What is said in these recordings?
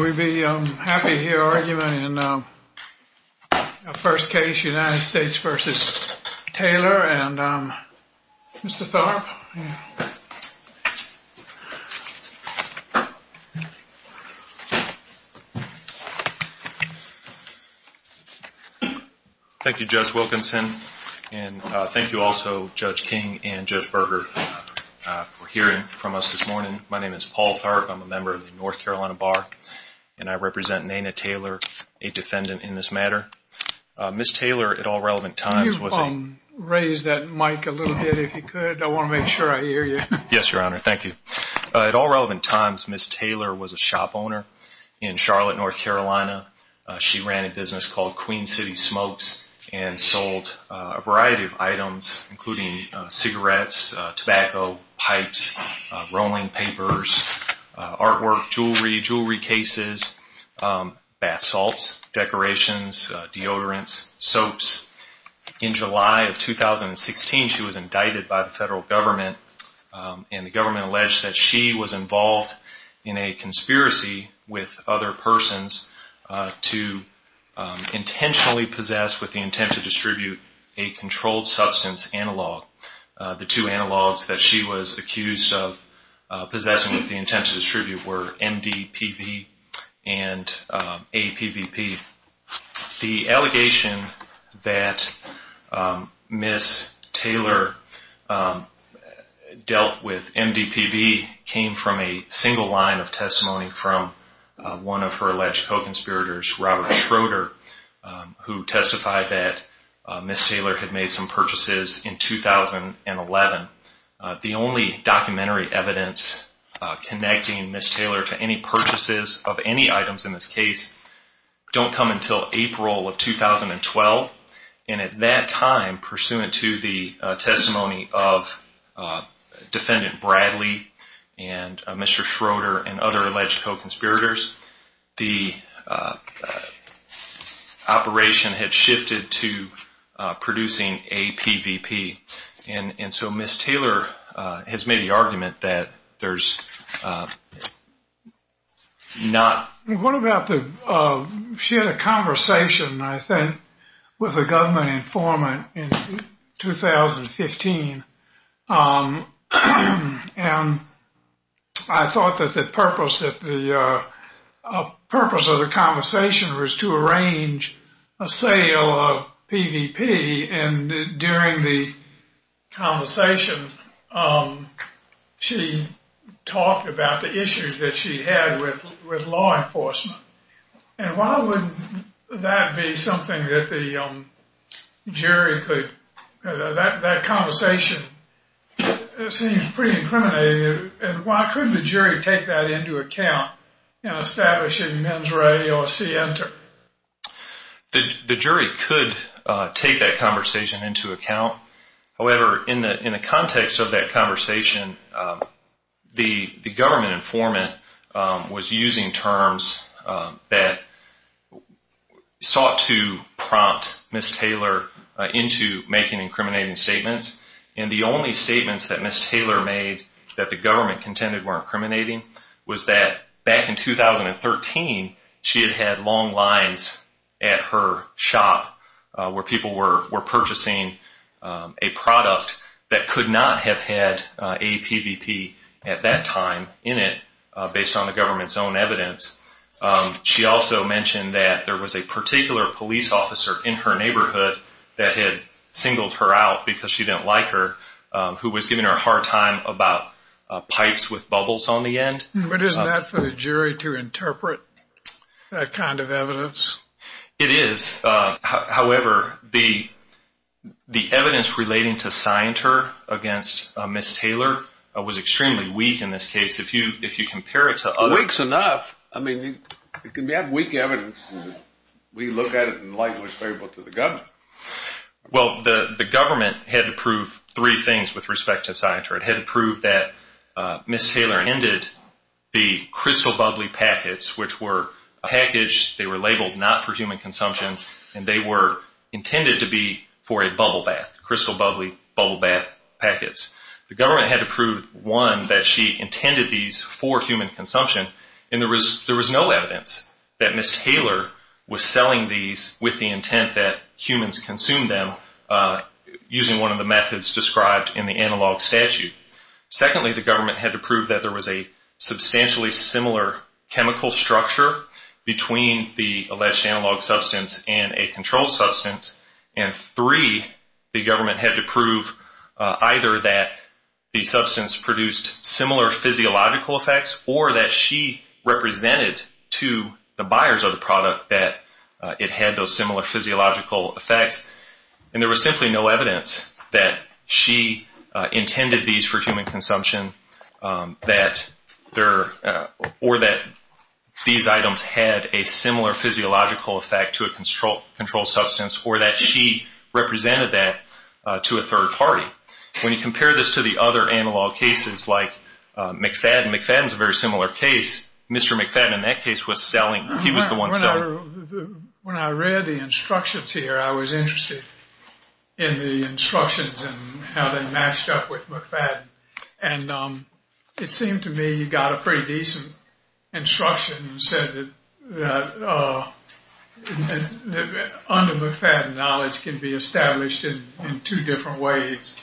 We'd be happy to hear argument in a first case United States v. Taylor and Mr. Thorpe. Thank you, Judge Wilkinson, and thank you also, Judge King and Judge Berger, for hearing from us this morning. My name is Paul Thorpe. I'm a member of the North Carolina Bar, and I represent Nayna Taylor, a defendant in this matter. Ms. Taylor, at all relevant times, was a shop owner in Charlotte, North Carolina. She ran a business called Queen City Smokes and sold a variety of items, including cigarettes, tobacco, pipes, rolling papers, artwork, jewelry, jewelry cases, bath salts, decorations, deodorants, soaps. In July of 2016, she was indicted by the federal government, and the government alleged that she was involved in a conspiracy with other persons to intentionally possess with the intent to distribute a controlled substance analog. The two analogs that she was accused of possessing with the intent to distribute were MDPV and APVP. The allegation that Ms. Taylor dealt with MDPV came from a single line of testimony from one of her alleged co-conspirators, Robert Schroeder, who testified that Ms. Taylor had made some purchases in 2011. The only documentary evidence connecting Ms. Taylor to any purchases of any items in this case don't come until April of 2012, and at that time, pursuant to the testimony of defendant Bradley and Mr. Schroeder and other alleged co-conspirators, the operation had shifted to producing APVP. And so Ms. Taylor has made the argument that there's not... In the conversation, she talked about the issues that she had with law enforcement, and why would that be something that the jury could... That conversation seems pretty incriminating, and why couldn't the jury take that into account in establishing men's rights or center? The jury could take that conversation into account. However, in the context of that conversation, the government informant was using terms that sought to prompt Ms. Taylor into making incriminating statements. And the only statements that Ms. Taylor made that the government contended were incriminating was that back in 2013, she had had long lines at her shop where people were purchasing a product that could not have had APVP at that time in it, based on the government's own evidence. She also mentioned that there was a particular police officer in her neighborhood that had singled her out because she didn't like her, who was giving her a hard time about pipes with bubbles on the end. But isn't that for the jury to interpret that kind of evidence? It is. However, the evidence relating to Scienter against Ms. Taylor was extremely weak in this case. If you compare it to other... Weak's enough. I mean, if you have weak evidence, we look at it and likely explain it to the government. Well, the government had to prove three things with respect to Scienter. It had to prove that Ms. Taylor ended the crystal bubbly packets, which were packaged, they were labeled not for human consumption, and they were intended to be for a bubble bath, crystal bubbly bubble bath packets. The government had to prove, one, that she intended these for human consumption, and there was no evidence that Ms. Taylor was selling these with the intent that humans consume them using one of the methods described in the analog statute. Secondly, the government had to prove that there was a substantially similar chemical structure between the alleged analog substance and a controlled substance. And three, the government had to prove either that the substance produced similar physiological effects or that she represented to the buyers of the product that it had those similar physiological effects. And there was simply no evidence that she intended these for human consumption or that these items had a similar physiological effect to a controlled substance or that she represented that to a third party. When you compare this to the other analog cases like McFadden, McFadden's a very similar case, Mr. McFadden in that case was selling... When I read the instructions here, I was interested in the instructions and how they matched up with McFadden. And it seemed to me you got a pretty decent instruction that said that under McFadden, knowledge can be established in two different ways.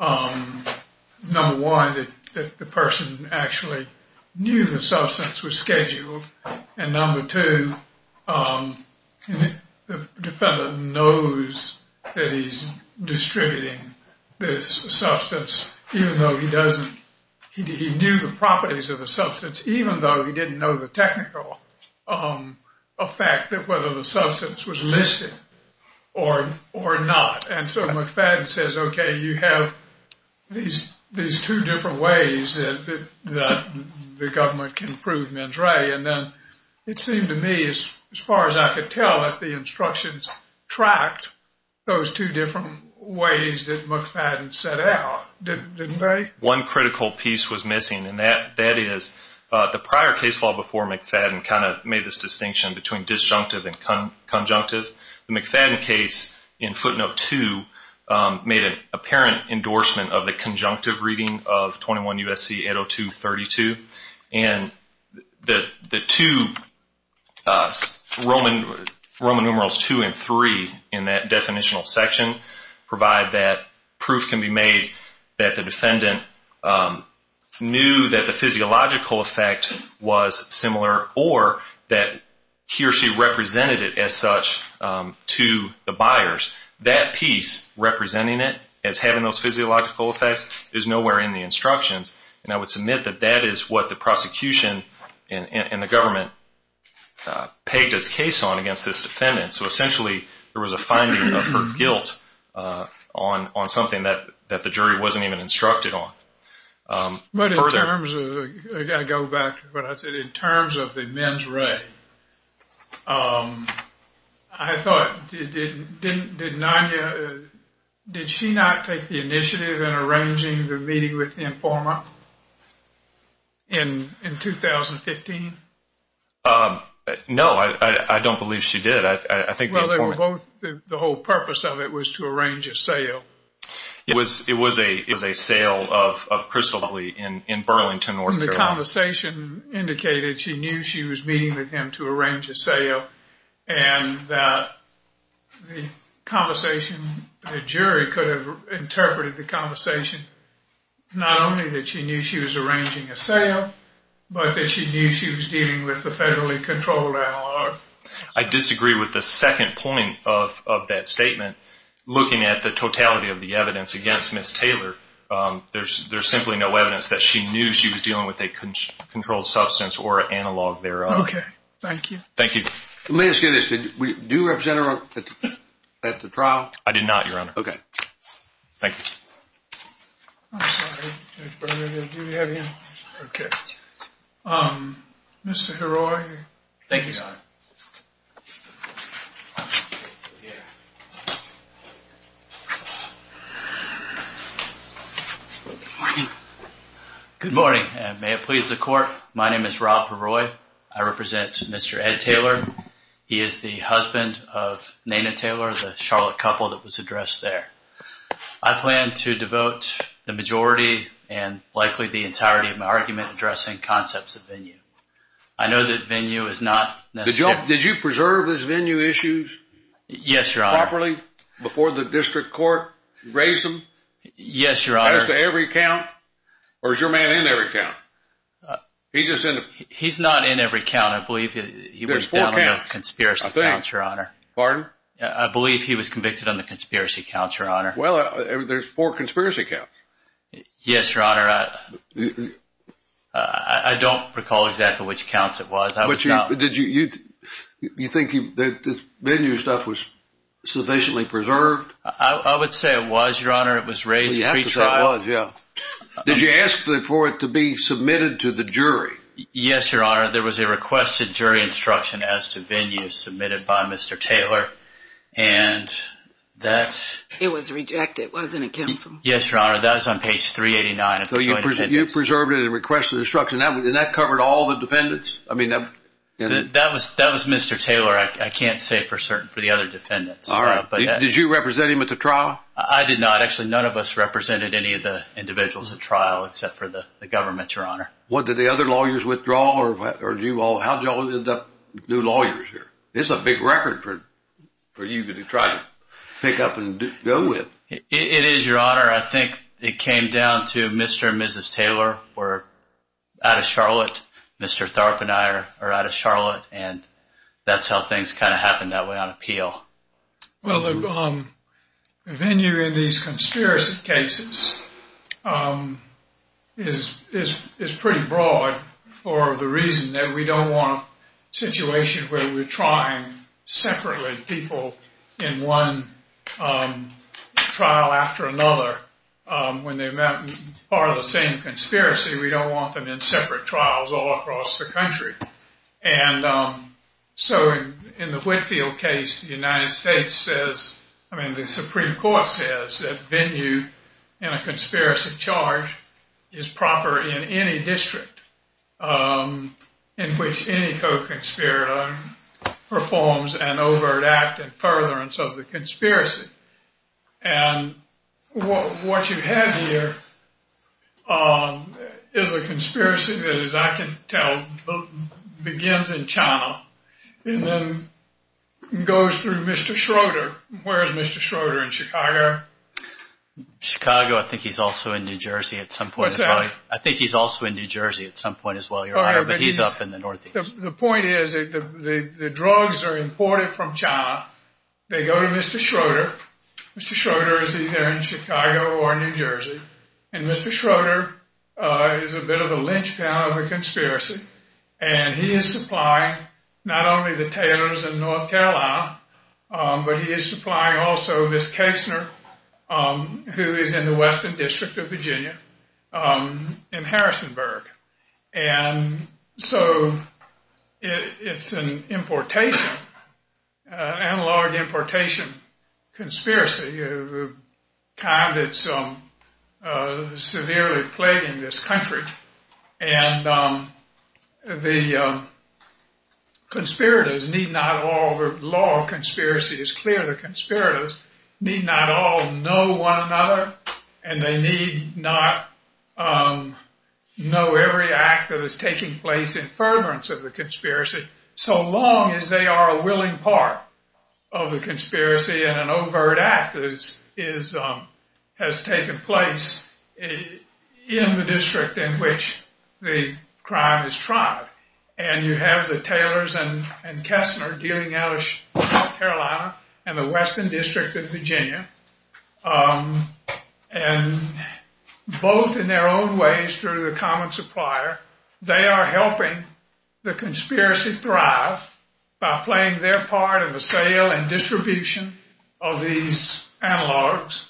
Number one, that the person actually knew the substance was scheduled. And number two, the defendant knows that he's distributing this substance even though he doesn't... He knew the properties of the substance even though he didn't know the technical effect of whether the substance was listed or not. And so McFadden says, okay, you have these two different ways that the government can prove men's right. And then it seemed to me as far as I could tell that the instructions tracked those two different ways that McFadden set out, didn't they? One critical piece was missing and that is the prior case law before McFadden kind of made this distinction between disjunctive and conjunctive. The McFadden case in footnote two made an apparent endorsement of the conjunctive reading of 21 U.S.C. 802.32. And the two Roman numerals two and three in that definitional section provide that proof can be made that the defendant knew that the physiological effect was similar or that he or she represented it as such to the buyers. That piece, representing it as having those physiological effects, is nowhere in the instructions. And I would submit that that is what the prosecution and the government paged a case on against this defendant. So essentially there was a finding of guilt on something that the jury wasn't even instructed on. I've got to go back to what I said. In terms of the men's right, I thought, did she not take the initiative in arranging the meeting with the informant in 2015? No, I don't believe she did. Well, the whole purpose of it was to arrange a sale. It was a sale of Crystal Lee in Burlington, North Carolina. The conversation indicated she knew she was meeting with him to arrange a sale, and that the conversation, the jury could have interpreted the conversation not only that she knew she was arranging a sale, but that she knew she was dealing with a federally controlled analog. I disagree with the second point of that statement. Looking at the totality of the evidence against Ms. Taylor, there's simply no evidence that she knew she was dealing with a controlled substance or analog thereof. Okay. Thank you. Thank you. Let me ask you this. Did you represent her at the trial? I did not, Your Honor. Okay. Thank you. I'm sorry. Mr. Heroy. Thank you, Your Honor. Good morning, and may it please the Court. My name is Rob Heroy. I represent Mr. Ed Taylor. He is the husband of Naina Taylor, the Charlotte couple that was addressed there. I plan to devote the majority and likely the entirety of my argument addressing concepts of venue. I know that venue is not necessary. Did you preserve his venue issues? Yes, Your Honor. Properly before the district court? You raised them? Yes, Your Honor. As to every count? Or is your man in every count? He's not in every count. I believe he was down on the conspiracy counts, Your Honor. Pardon? I believe he was convicted on the conspiracy counts, Your Honor. Well, there's four conspiracy counts. Yes, Your Honor. I don't recall exactly which counts it was. Did you think that this venue stuff was sufficiently preserved? I would say it was, Your Honor. It was raised at the trial. Yes, it was, yeah. Did you ask for it to be submitted to the jury? Yes, Your Honor. There was a requested jury instruction as to venues submitted by Mr. Taylor. And that's... It was rejected, wasn't it, Counsel? Yes, Your Honor. That was on page 389. So you preserved it and requested instruction. Did that cover all the defendants? I mean... That was Mr. Taylor. I can't say for certain for the other defendants. All right. Did you represent him at the trial? I did not. Actually, none of us represented any of the individuals at trial except for the government, Your Honor. What, did the other lawyers withdraw, or did you all... How did y'all end up new lawyers here? This is a big record for you to try to pick up and go with. It is, Your Honor. I think it came down to Mr. and Mrs. Taylor were out of Charlotte. Mr. Thorpe and I are out of Charlotte, and that's how things kind of happened that way on appeal. Well, the venue in these conspiracy cases is pretty broad for the reason that we don't want situations where we're trying separately people in one trial after another. When they're part of the same conspiracy, we don't want them in separate trials all across the country. In the Whitfield case, the United States says, I mean, the Supreme Court says that venue in a conspiracy charge is proper in any district in which any co-conspirator performs an over-adapted furtherance of the conspiracy. And what you have here is a conspiracy that, as I can tell, begins in China and then goes through Mr. Schroeder. Where is Mr. Schroeder? In Chicago? Chicago. I think he's also in New Jersey at some point as well. I think he's also in New Jersey at some point as well, Your Honor, but he's up in the Northeast. The point is that the drugs are imported from China. They go to Mr. Schroeder. Mr. Schroeder is either in Chicago or New Jersey, and Mr. Schroeder is a bit of a linchpin of a conspiracy. And he is supplying not only the tailors in North Carolina, but he is supplying also Miss Kastner, who is in the Western District of Virginia, in Harrisonburg. And so it's an importation, analog importation conspiracy. China is severely plaguing this country, and the conspirators need not all—the law of conspiracy is clear. The conspirators need not all know one another, and they need not know every act that is taking place in fervorance of the conspiracy, so long as they are a willing part of the conspiracy and an overt act that has taken place in the district in which the crime is tried. And you have the tailors and Kastner gearing out of North Carolina and the Western District of Virginia, and both in their own ways through the common supplier, they are helping the conspiracy thrive by playing their part in the sale and distribution of these analogs,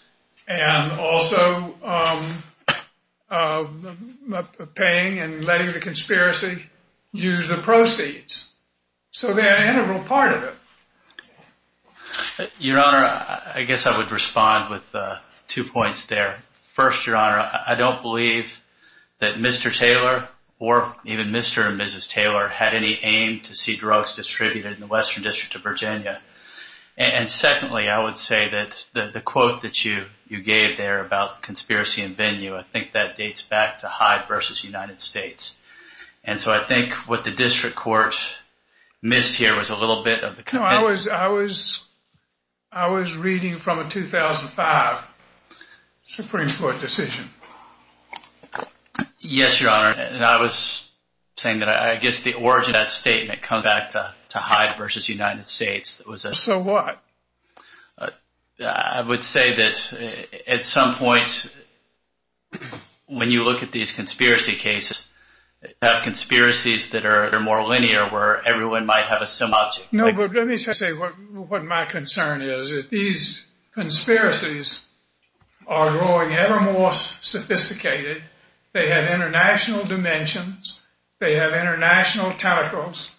and also paying and letting the conspiracy use the proceeds, so they are an integral part of it. Your Honor, I guess I would respond with two points there. First, Your Honor, I don't believe that Mr. Taylor or even Mr. and Mrs. Taylor had any aim to see drugs distributed in the Western District of Virginia. And secondly, I would say that the quote that you gave there about conspiracy and venue, I think that dates back to Hyde v. United States. And so I think what the district court missed here was a little bit of the— No, I was reading from a 2005 Supreme Court decision. Yes, Your Honor, and I was saying that I guess the origin of that statement comes back to Hyde v. United States. So what? I would say that at some point, when you look at these conspiracy cases, you have conspiracies that are more linear where everyone might have a similar— No, but let me just say what my concern is. These conspiracies are growing ever more sophisticated. They have international dimensions. They have international tackles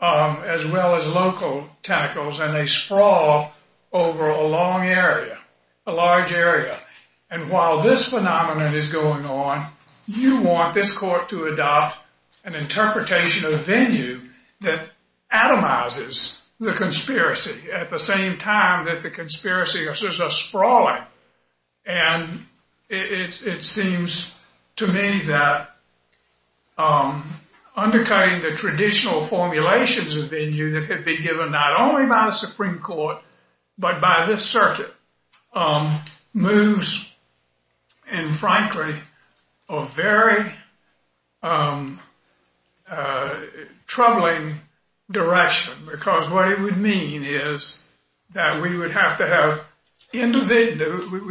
as well as local tackles, and they sprawl over a long area, a large area. And while this phenomenon is going on, you want this court to adopt an interpretation of venue that atomizes the conspiracy at the same time that the conspiracies are sprawling. And it seems to me that undercutting the traditional formulations of venue that could be given not only by the Supreme Court but by this circuit moves in, frankly, a very troubling direction. Because what it would mean is that we would have to have—we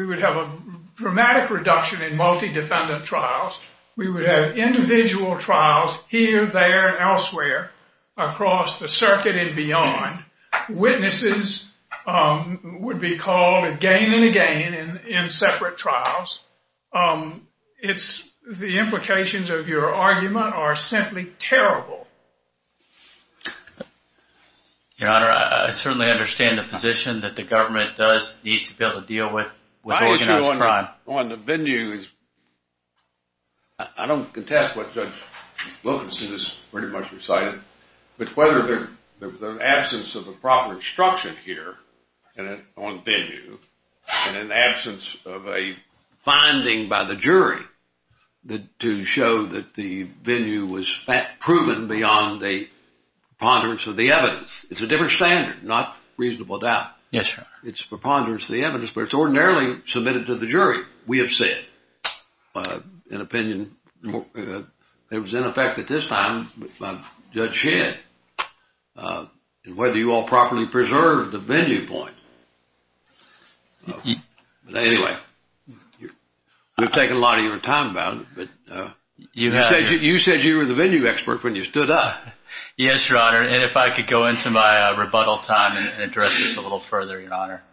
would have a dramatic reduction in multi-defendant trials. We would have individual trials here, there, and elsewhere across the circuit and beyond. Witnesses would be called again and again in separate trials. The implications of your argument are simply terrible. Your Honor, I certainly understand the position that the government does need to be able to deal with organized crime. On the venue, I don't contest what Judge Wilkinson has pretty much decided, but whether the absence of a proper instruction here on venue and an absence of a finding by the jury to show that the venue was proven beyond the preponderance of the evidence. It's a different standard, not reasonable doubt. Yes, Your Honor. It's preponderance of the evidence, but it's ordinarily submitted to the jury, we have said. An opinion that was in effect at this time by Judge Shedd. And whether you all properly preserved the venue point. Anyway, we've taken a lot of your time about it, but you said you were the venue expert when you stood up. Yes, Your Honor, and if I could go into my rebuttal time and address this a little further, Your Honor.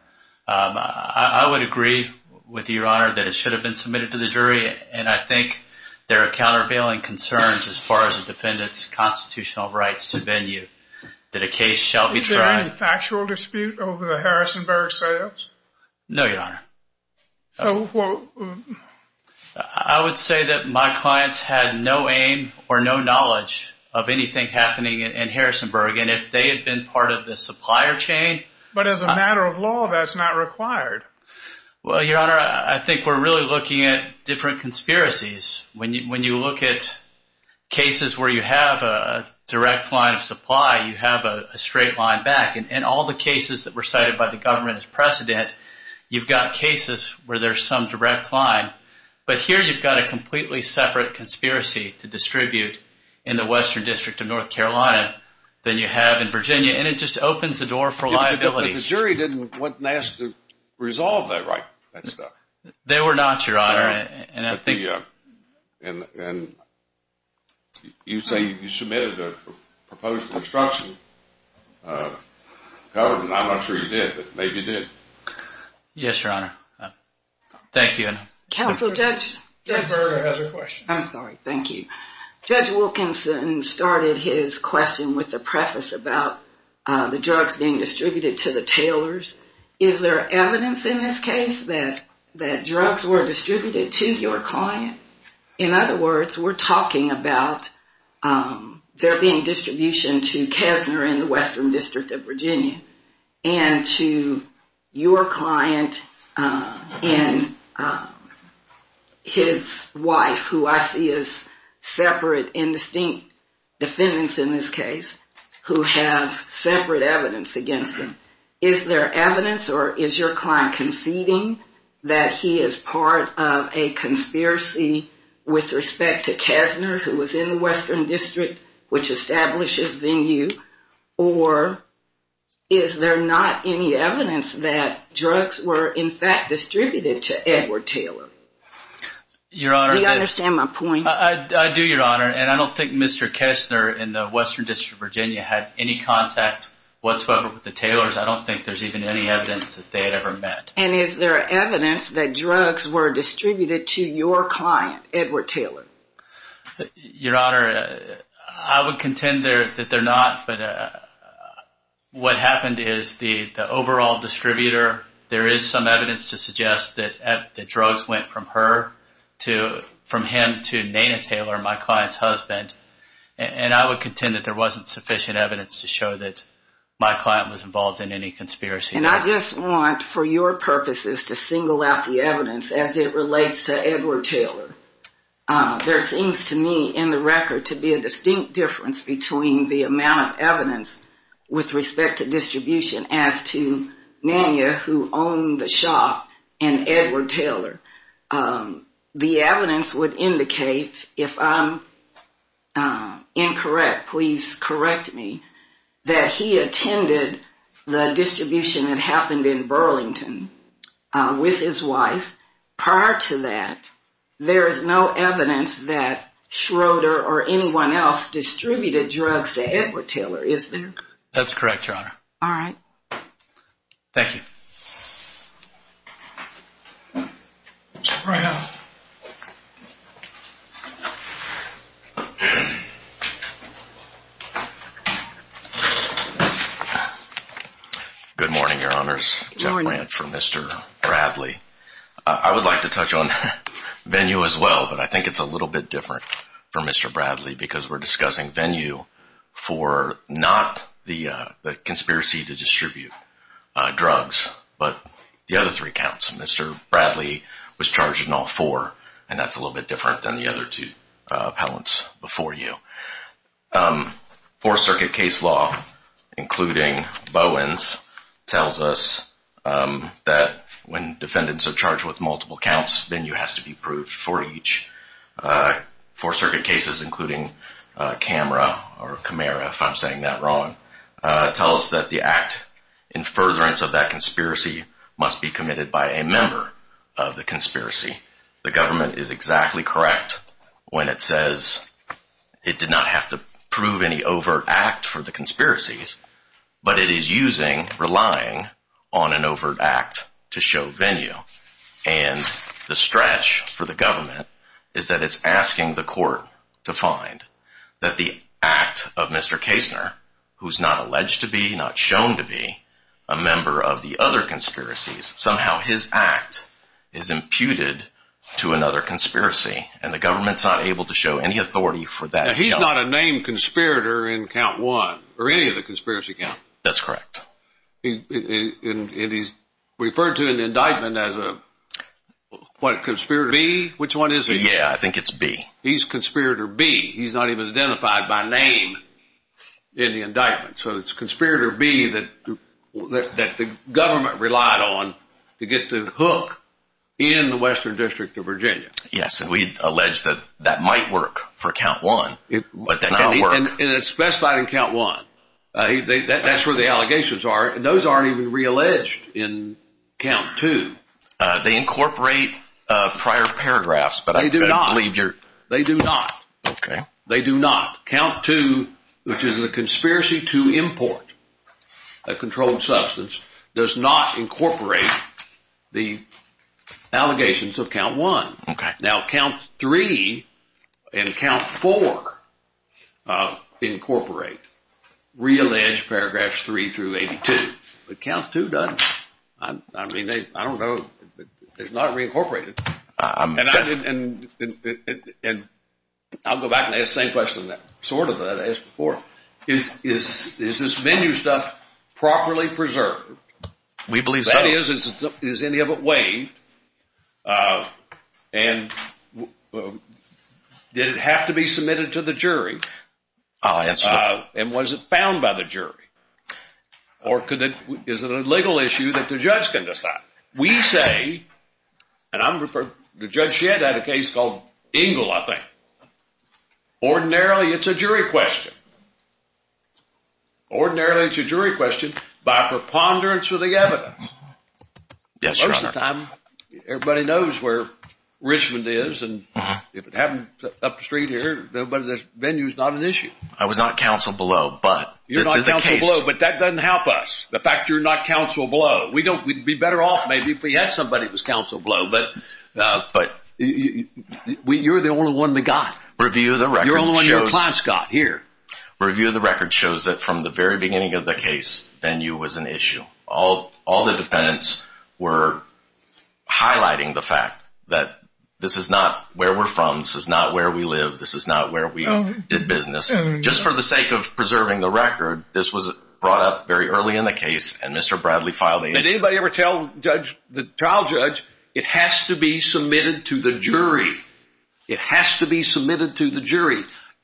I would agree with Your Honor that it should have been submitted to the jury. And I think there are countervailing concerns as far as the defendant's constitutional rights to venue that a case shall be tried. Is there any factual dispute over the Harrisonburg say-ups? No, Your Honor. I would say that my clients had no aim or no knowledge of anything happening in Harrisonburg. And if they had been part of the supplier chain. But as a matter of law, that's not required. Well, Your Honor, I think we're really looking at different conspiracies. When you look at cases where you have a direct line of supply, you have a straight line back. And all the cases that were cited by the government as precedent, you've got cases where there's some direct line. But here you've got a completely separate conspiracy to distribute in the Western District of North Carolina than you have in Virginia. And it just opens the door for liability. But the jury didn't ask to resolve that right. They were not, Your Honor. And you say you submitted a proposal to the construction government. I'm not sure you did. But maybe you did. Yes, Your Honor. Thank you. Counsel, Judge Berger has a question. I'm sorry. Thank you. Judge Wilkinson started his question with a preface about the drugs being distributed to the tailors. Is there evidence in this case that drugs were distributed to your client? In other words, we're talking about there being distribution to Kessner in the Western District of Virginia. And to your client and his wife, who I see as separate and distinct defendants in this case, who have separate evidence against him. Is there evidence, or is your client conceding that he is part of a conspiracy with respect to Kessner, who was in the Western District, which establishes venue? Or is there not any evidence that drugs were in fact distributed to Edward Taylor? Your Honor. Do you understand my point? I do, Your Honor. And I don't think Mr. Kessner in the Western District of Virginia had any contact whatsoever with the tailors. I don't think there's even any evidence that they had ever met. And is there evidence that drugs were distributed to your client, Edward Taylor? Your Honor, I would contend that they're not. What happened is the overall distributor, there is some evidence to suggest that the drugs went from him to Dana Taylor, my client's husband. And I would contend that there wasn't sufficient evidence to show that my client was involved in any conspiracy. And I just want, for your purposes, to single out the evidence as it relates to Edward Taylor. There seems to me in the record to be a distinct difference between the amount of evidence with respect to distribution as to Nanya, who owned the shop, and Edward Taylor. The evidence would indicate, if I'm incorrect, please correct me, that he attended the distribution that happened in Burlington with his wife. Prior to that, there is no evidence that Schroeder or anyone else distributed drugs to Edward Taylor, is there? That's correct, Your Honor. All right. Thank you. Mr. Brown. Good morning, Your Honors. Good morning. I would like to touch on Venue as well, but I think it's a little bit different for Mr. Bradley because we're discussing Venue for not the conspiracy to distribute drugs, but the other three counts. Mr. Bradley was charged in all four, and that's a little bit different than the other two appellants before you. Four-circuit case law, including Bowen's, tells us that when defendants are charged with multiple counts, Venue has to be proved for each. Four-circuit cases, including Camara, if I'm saying that wrong, tell us that the act in furtherance of that conspiracy must be committed by a member of the conspiracy. The government is exactly correct when it says it did not have to prove any overt act for the conspiracies, but it is using, relying on an overt act to show Venue. And the stretch for the government is that it's asking the court to find that the act of Mr. Kasner, who's not alleged to be, not shown to be, a member of the other conspiracies, somehow his act is imputed to another conspiracy, and the government's not able to show any authority for that. Now, he's not a named conspirator in count one, or any of the conspiracy counts. That's correct. And he's referred to in the indictment as a, what, conspirator B? Which one is he? Yeah, I think it's B. He's conspirator B. He's not even identified by name in the indictment. So it's conspirator B that the government relied on to get the hook in the Western District of Virginia. Yes, and we've alleged that that might work for count one, but that did not work. And it's specified in count one. That's where the allegations are, and those aren't even realleged in count two. They incorporate prior paragraphs. They do not. They do not. Okay. They do not. Count two, which is the conspiracy to import a controlled substance, does not incorporate the allegations of count one. Okay. Now, count three and count four incorporate realleged paragraphs three through 82, but count two doesn't. I mean, I don't know. It's not reincorporated. And I'll go back and ask the same question, sort of, that I asked before. Is this menu stuff properly preserved? We believe so. If that is, is any of it waived? And did it have to be submitted to the jury? And was it found by the jury? Or is it a legal issue that the judge can decide? We say, and the judge had a case called Engel, I think. Ordinarily, it's a jury question. Ordinarily, it's a jury question by preponderance of the evidence. Most of the time, everybody knows where Richmond is, and if it happened up the street here, the venue's not an issue. I was not counseled below. You're not counseled below, but that doesn't help us, the fact you're not counseled below. We'd be better off maybe if we had somebody who was counseled below, but you're the only one that got it. Review the records. Review the records shows that from the very beginning of the case, venue was an issue. All the defendants were highlighting the fact that this is not where we're from, this is not where we live, this is not where we did business. Just for the sake of preserving the record, this was brought up very early in the case, and Mr. Bradley filed the issue. Did anybody ever tell the trial judge, it has to be submitted to the jury? It has to be submitted to the jury.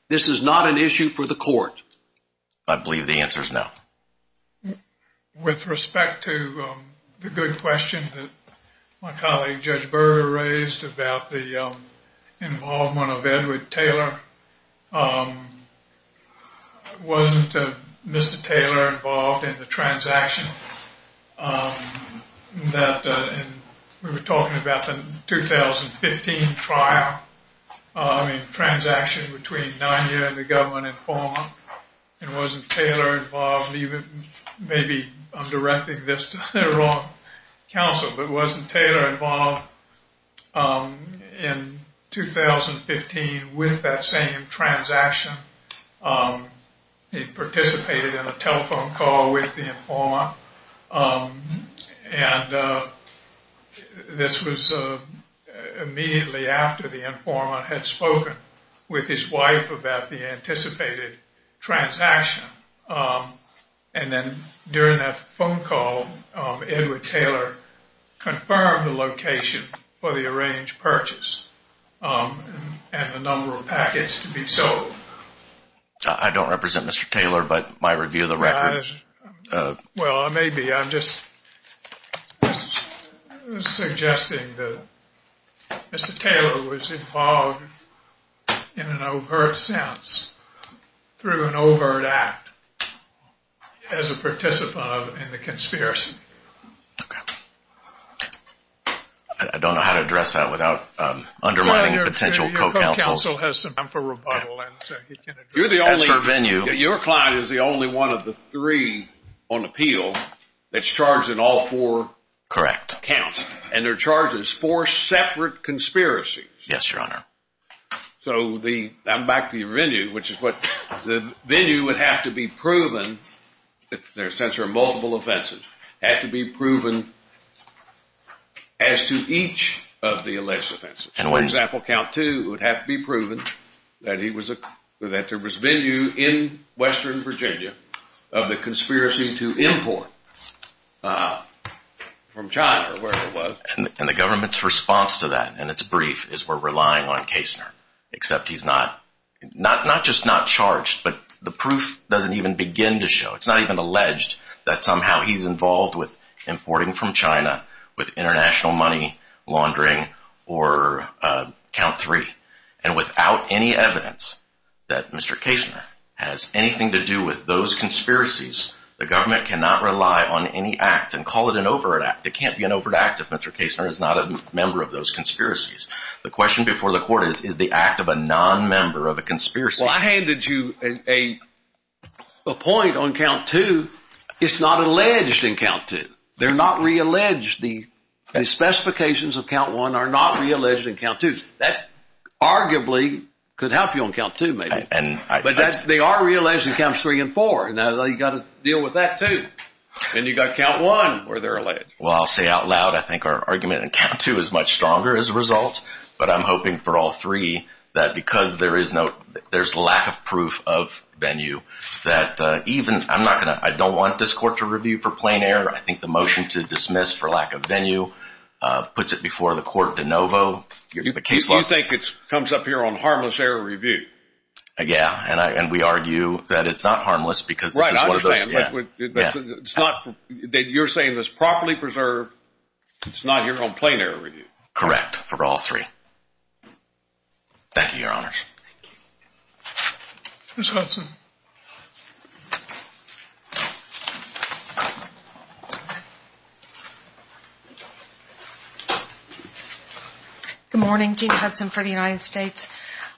This is not an issue for the court. I believe the answer is no. With respect to the good question that my colleague Judge Berger raised about the involvement of Edward Taylor, wasn't Mr. Taylor involved in the transaction that we were talking about in the 2015 trial, in the transaction between Niner and the government informant, and wasn't Taylor involved, even maybe I'm directing this to the wrong counsel, but wasn't Taylor involved in 2015 with that same transaction? He participated in a telephone call with the informant, and this was immediately after the informant had spoken with his wife about the anticipated transaction. And then during that phone call, Edward Taylor confirmed the location for the arranged purchase, and the number of packets to be sold. I don't represent Mr. Taylor, but my review of the record. Well, maybe I'm just suggesting that Mr. Taylor was involved in an overt sense, through an overt act, as a participant in the conspiracy. Okay. I don't know how to address that without undermining the potential co-counsel. Your co-counsel has some time for rebuttal. You're the only, your client is the only one of the three on appeal that's charged in all four counts, and they're charged as four separate conspiracies. Yes, Your Honor. So the, I'm back to your venue, which is what, the venue would have to be proven, there are multiple offenses, had to be proven as to each of the alleged offenses. For example, count two would have to be proven that he was, that there was venue in western Virginia of a conspiracy to import from China, or wherever it was. And the government's response to that, and it's brief, is we're relying on Kastner, except he's not, not just not charged, but the proof doesn't even begin to show, it's not even alleged that somehow he's involved with importing from China, with international money laundering, or count three. And without any evidence that Mr. Kastner has anything to do with those conspiracies, the government cannot rely on any act, and call it an overt act, it can't be an overt act if Mr. Kastner is not a member of those conspiracies. The question before the court is, is the act of a non-member of a conspiracy. Well, I handed you a point on count two, it's not alleged in count two. They're not re-alleged, the specifications of count one are not re-alleged in count two. That arguably could help you on count two, maybe. But they are re-alleged in counts three and four, and you've got to deal with that too. Then you've got count one, where they're alleged. Well, I'll say out loud, I think our argument in count two is much stronger as a result, but I'm hoping for all three that because there is no, there's lack of proof of venue, that even, I'm not going to, I don't want this court to review for plain error, I think the motion to dismiss for lack of venue puts it before the court de novo. You think it comes up here on harmless error review? Yeah, and we argue that it's not harmless because. Right, I understand. Yeah. It's not that you're saying this properly preserved, it's not here on plain error review. Back to you, Your Honors. Thank you. Thank you. Good morning, Jeanne Hudson for the United States.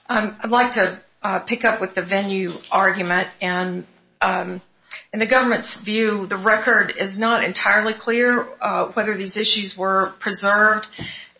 I'd like to pick up with the venue argument, and in the government's view, the record is not entirely clear whether these issues were preserved.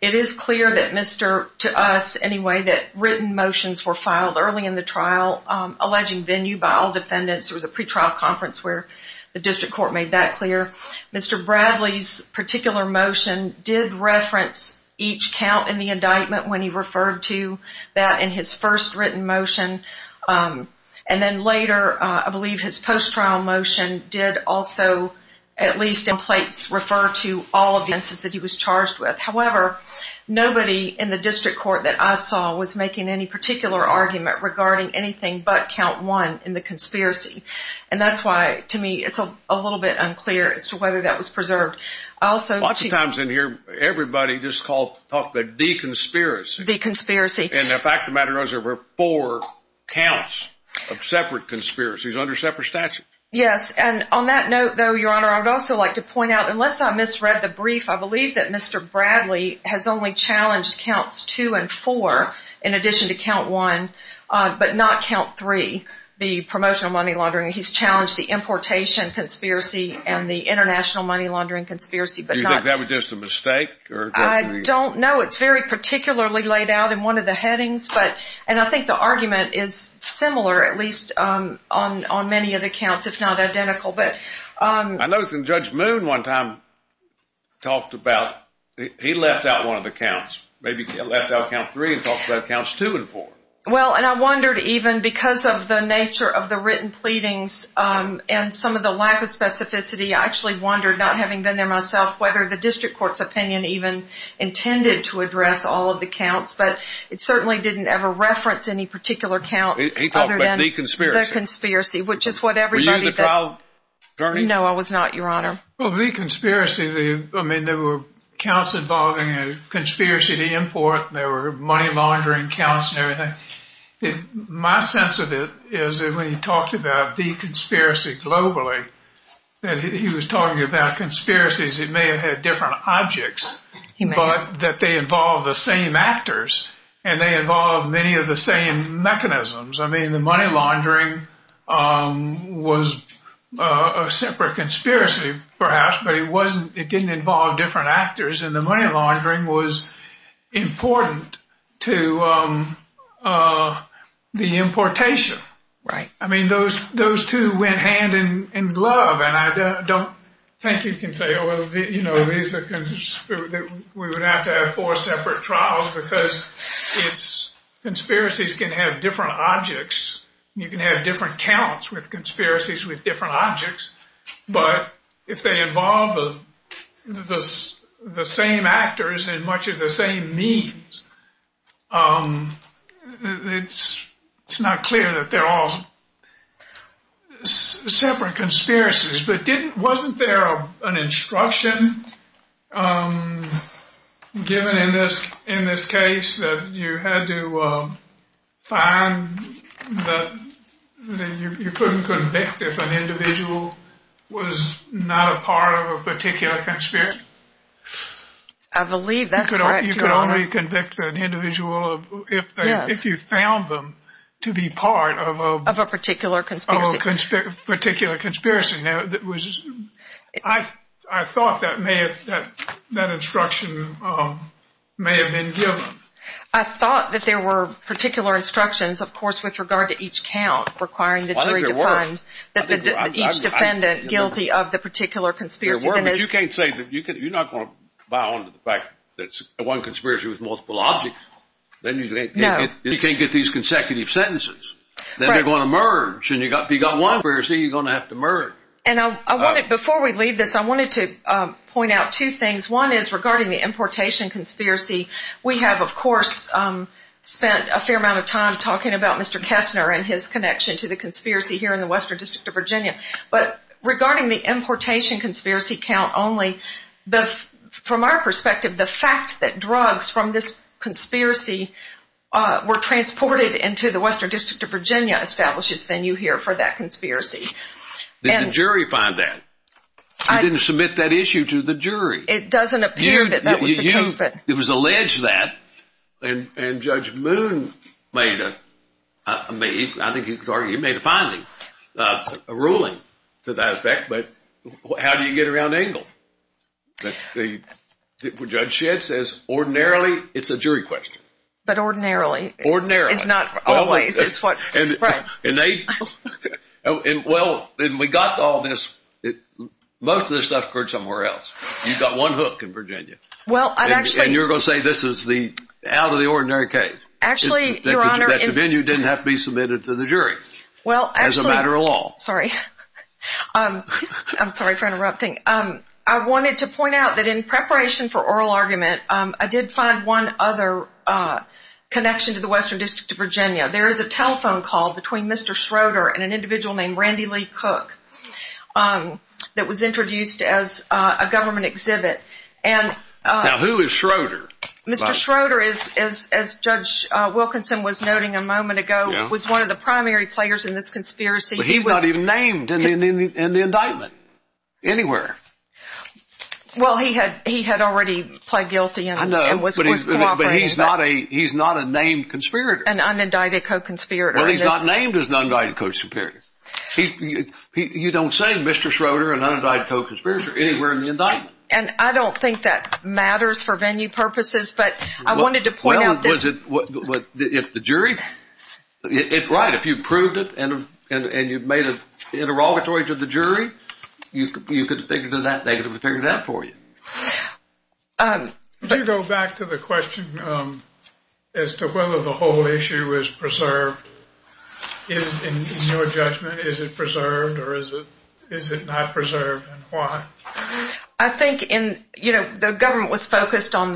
It is clear that Mr., to us anyway, that written motions were filed early in the trial alleging venue by all defendants through the pretrial conference where the district court made that clear. Mr. Bradley's particular motion did reference each count in the indictment when he referred to that in his first written motion. And then later, I believe his post-trial motion did also at least in place refer to all of the instances that he was charged with. However, nobody in the district court that I saw was making any particular argument regarding anything but count one in the conspiracy. And that's why, to me, it's a little bit unclear as to whether that was preserved. I also- A lot of times in here, everybody just calls the de-conspiracy. De-conspiracy. And the fact of the matter is there were four counts of separate conspiracies under separate statutes. Yes, and on that note, though, Your Honor, I would also like to point out, unless I misread the brief, I believe that Mr. Bradley has only challenged counts two and four in addition to count one, but not count three, the promotional money laundering. He's challenged the importation conspiracy and the international money laundering conspiracy. Do you think that was just a mistake? I don't know. It's very particularly laid out in one of the headings. And I think the argument is similar, at least on many of the counts. It's not identical. I noticed when Judge Moon one time talked about he left out one of the counts, maybe left out count three and talked about counts two and four. Well, and I wondered even because of the nature of the written pleadings and some of the lack of specificity, I actually wondered, not having been there myself, whether the district court's opinion even intended to address all of the counts. But it certainly didn't ever reference any particular count other than the conspiracy, which is what everybody thinks. Were you involved, Ernie? No, I was not, Your Honor. Well, the conspiracy, I mean, there were counts involving a conspiracy to import, and there were money laundering counts and everything. My sense of it is that when he talked about the conspiracy globally, he was talking about conspiracies that may have had different objects, but that they involved the same actors, and they involved many of the same mechanisms. I mean, the money laundering was a separate conspiracy, perhaps, but it didn't involve different actors, and the money laundering was important to the importation. Right. I mean, those two went hand in glove, and I don't think you can say, we would have to have four separate trials because conspiracies can have different objects. You can have different counts with conspiracies with different objects, but if they involve the same actors and much of the same means, it's not clear that they're all separate conspiracies. But wasn't there an instruction given in this case that you had to find that you couldn't convict if an individual was not a part of a particular conspiracy? I believe that's correct, Your Honor. You could only convict an individual if you found them to be part of a particular conspiracy. I thought that instruction may have been given. I thought that there were particular instructions, of course, with regard to each count, requiring that each defendant guilty of the particular conspiracy. There were, but you can't say that. You're not going to bow down to the fact that one conspiracy was multiple objects. You can't get these consecutive sentences. Then they're going to merge. If you've got one conspiracy, you're going to have to merge. Before we leave this, I wanted to point out two things. One is regarding the importation conspiracy. We have, of course, spent a fair amount of time talking about Mr. Kessner and his connection to the conspiracy here in the Western District of Virginia. But regarding the importation conspiracy count only, from our perspective, the fact that drugs from this conspiracy were transported into the Western District of Virginia establishes venue here for that conspiracy. Did the jury find that? You didn't submit that issue to the jury. It doesn't appear that that was the case. It was alleged that, and Judge Moon made a finding, a ruling to that effect. But how do you get around Abel? Judge Shedd says, ordinarily, it's a jury question. Ordinarily. It's not always. Well, we got all this. Most of this stuff occurred somewhere else. You've got one hook in Virginia. And you're going to say this is out of the ordinary case. Actually, Your Honor. That the venue didn't have to be submitted to the jury as a matter of law. Sorry. I'm sorry for interrupting. I wanted to point out that in preparation for oral argument, I did find one other connection to the Western District of Virginia. There is a telephone call between Mr. Schroeder and an individual named Randy Lee Cook that was introduced as a government exhibit. Now, who is Schroeder? Mr. Schroeder, as Judge Wilkinson was noting a moment ago, was one of the primary players in this conspiracy. But he's not even named in the indictment anywhere. Well, he had already pled guilty and was cooperating. But he's not a named conspirator. An unindicted co-conspirator. Well, he's not named as an unindicted co-conspirator. You don't say Mr. Schroeder, an unindicted co-conspirator, anywhere in the indictment. And I don't think that matters for venue purposes. But I wanted to point out this. Well, is it the jury? Right, if you've proved it and you've made an interrogatory to the jury, you can figure that out for you. Can I go back to the question as to whether the whole issue is preserved? In your judgment, is it preserved or is it not preserved and why? I think the government was focused on,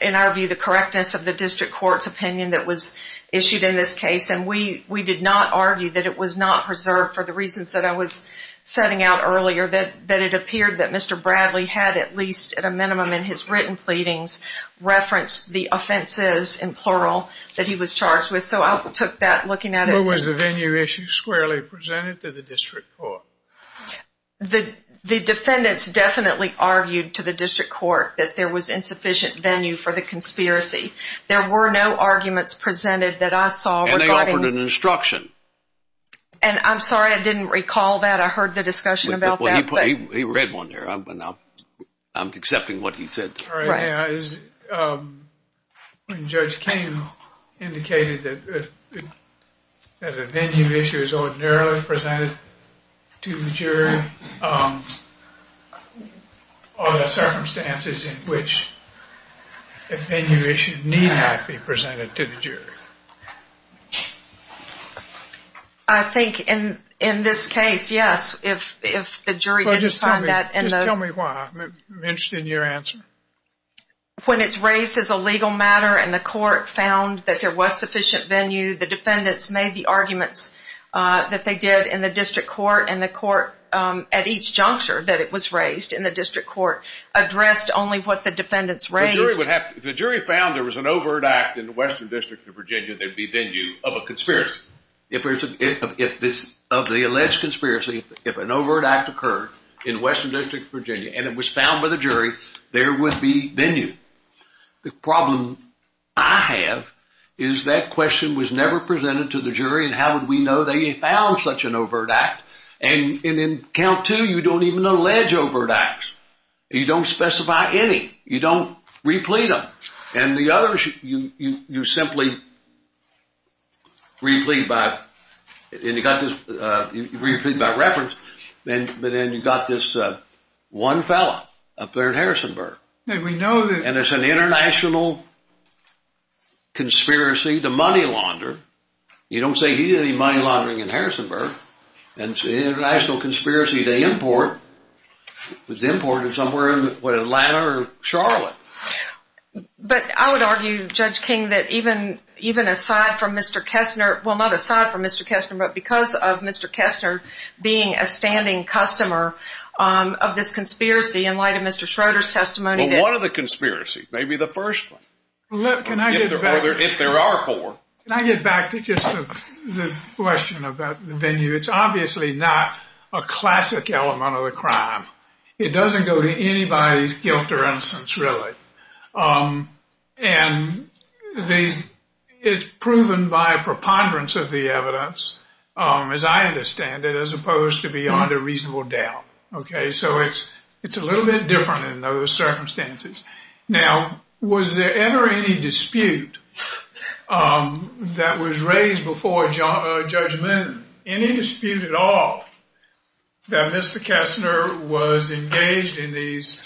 in our view, the correctness of the district court's opinion that was issued in this case. And we did not argue that it was not preserved for the reasons that I was setting out earlier, that it appeared that Mr. Bradley had at least at a minimum in his written pleadings referenced the offenses, in plural, that he was charged with. So I took that looking at it. What was the venue issue squarely presented to the district court? The defendants definitely argued to the district court that there was insufficient venue for the conspiracy. There were no arguments presented that I saw. And they offered an instruction. And I'm sorry, I didn't recall that. I heard the discussion about that. He read one there. I'm accepting what he said. Judge King indicated that the venue issue is ordinarily presented to the jury. Are there circumstances in which the venue issue may not be presented to the jury? I think in this case, yes, if the jury can find that. Just tell me why. I'm interested in your answer. When it's raised as a legal matter and the court found that there was sufficient venue, the defendants made the arguments that they did in the district court. And the court, at each juncture that it was raised in the district court, addressed only what the defendants raised. If the jury found there was an overt act in the Western District of Virginia, there'd be venue of a conspiracy. And if it was found by the jury, there would be venue. The problem I have is that question was never presented to the jury. And how would we know they had found such an overt act? And in count two, you don't even allege overt acts. You don't specify any. You don't replete them. And the others, you simply replete by reference. But then you've got this one fellow up there in Harrisonburg. And it's an international conspiracy, the money launderer. You don't say he did any money laundering in Harrisonburg. And it's an international conspiracy to import. It was imported somewhere in, what, Atlanta or Charlotte. But I would argue, Judge King, that even aside from Mr. Kessner, well, not aside from Mr. Kessner, but because of Mr. Kessner being a standing customer of this conspiracy in light of Mr. Schroeder's testimony. Well, what are the conspiracies? Maybe the first one. If there are four. Can I get back to just the question about the venue? It's obviously not a classic element of the crime. It doesn't go to anybody's guilt or innocence, really. And it's proven by preponderance of the evidence, as I understand it, as opposed to beyond a reasonable doubt. So it's a little bit different in those circumstances. Now, was there ever any dispute that was raised before judgment, any dispute at all, that Mr. Kessner was engaged in these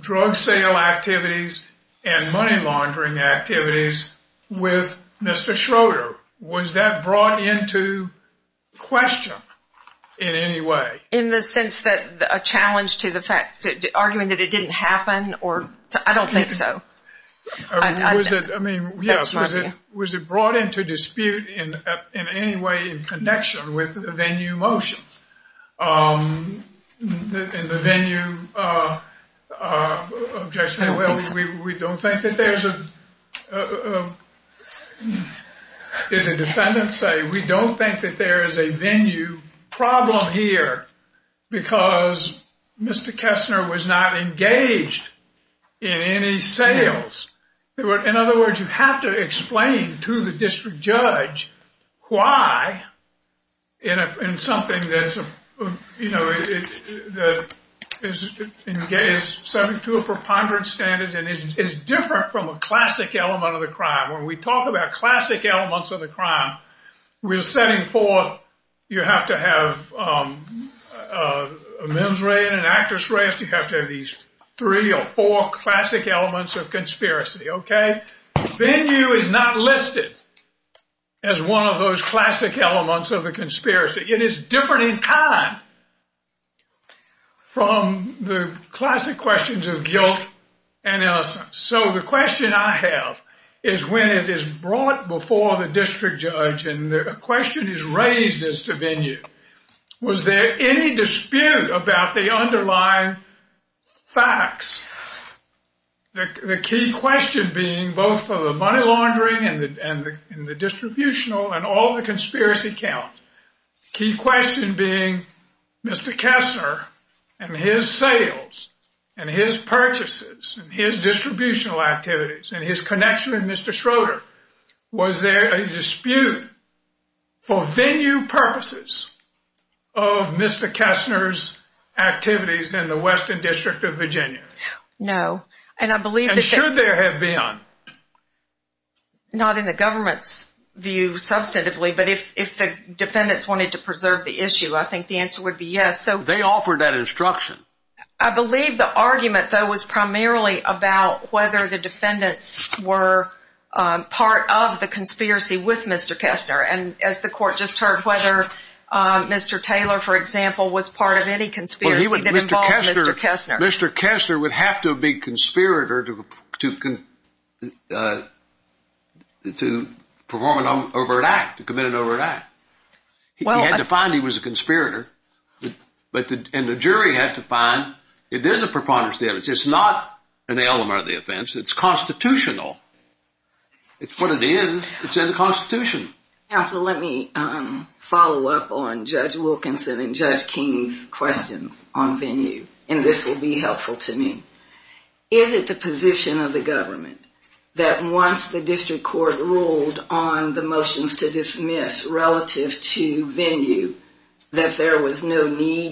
drug sale activities and money laundering activities with Mr. Schroeder? Was that brought into question in any way? In the sense that a challenge to the fact that, arguing that it didn't happen or, I don't think so. I mean, yes. Was it brought into dispute in any way in connection with the venue motion? In the venue, we don't think that there's a, as the defendant said, we don't think that there is a venue problem here because Mr. Kessner was not engaged in any sales. In other words, you have to explain to the district judge why in something that's engaged 72 preponderance standards and is different from a classic element of the crime. When we talk about classic elements of the crime, we're setting forth you have to have a men's rest and an actress rest. You have to have these three or four classic elements of conspiracy. Okay? Venue is not listed as one of those classic elements of the conspiracy. It is different in time from the classic questions of guilt and innocence. So the question I have is when it is brought before the district judge and the question is raised as to venue, was there any dispute about the underlying facts? The key question being both for the money laundering and the distributional and all the conspiracy counts, the key question being Mr. Kessner and his sales and his purchases and his distributional activities and his connection to Mr. Schroeder, was there a dispute for venue purposes of Mr. Kessner's activities in the Western District of Virginia? No. And should there have been? Not in the government's view substantively, but if the defendants wanted to preserve the issue, I think the answer would be yes. They offered that instruction. I believe the argument, though, was primarily about whether the defendants were part of the conspiracy with Mr. Kessner. And as the court just heard, whether Mr. Taylor, for example, was part of any conspiracy that involved Mr. Kessner. Mr. Kessner would have to be a conspirator to perform an overt act, to commit an overt act. He had to find he was a conspirator. And the jury has to find it is a preponderance of evidence. It's not an element of the offense. It's constitutional. It's what it is. It's in the Constitution. Counsel, let me follow up on Judge Wilkinson and Judge Keene's questions on venue, and this will be helpful to me. Is it the position of the government that once the district court ruled on the need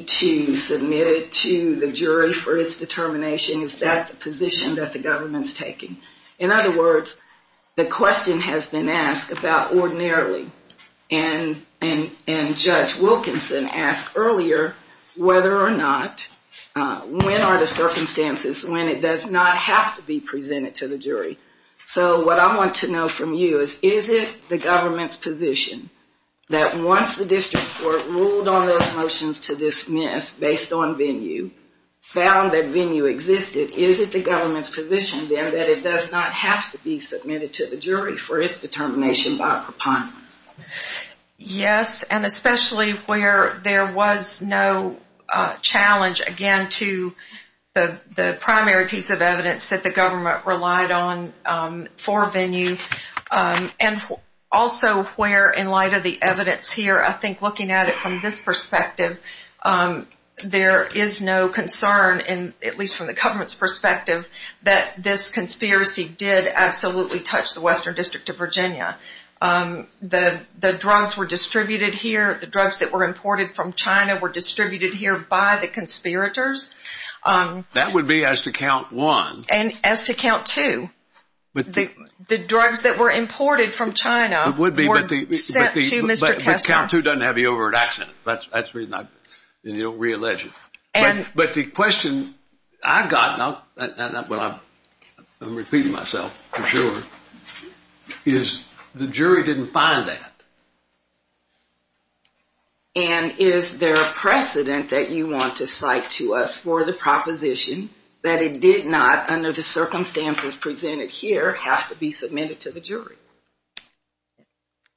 to submit it to the jury for its determination, is that the position that the government is taking? In other words, the question has been asked about ordinarily, and Judge Wilkinson asked earlier whether or not, when are the circumstances when it does not have to be presented to the jury. So what I want to know from you is, is it the government's position that once the district court ruled on those relations to this myth based on venue, found that venue existed, is it the government's position then that it does not have to be submitted to the jury for its determination by a preponderance? Yes, and especially where there was no challenge, again, to the primary piece of evidence that the government relied on for venue, and also where, in light of the evidence here, I think looking at it from this perspective, there is no concern, at least from the government's perspective, that this conspiracy did absolutely touch the Western District of Virginia. The drugs were distributed here. The drugs that were imported from China were distributed here by the conspirators. That would be as to count one. And as to count two. The drugs that were imported from China were sent to Mr. Kessler. But count two doesn't have to be over an accident. That's the reason I'm re-alleging. But the question I've got, and I'm repeating myself for sure, is the jury didn't find that. And is there a precedent that you want to cite to us for the proposition that it did not, under the circumstances presented here, have to be submitted to the jury?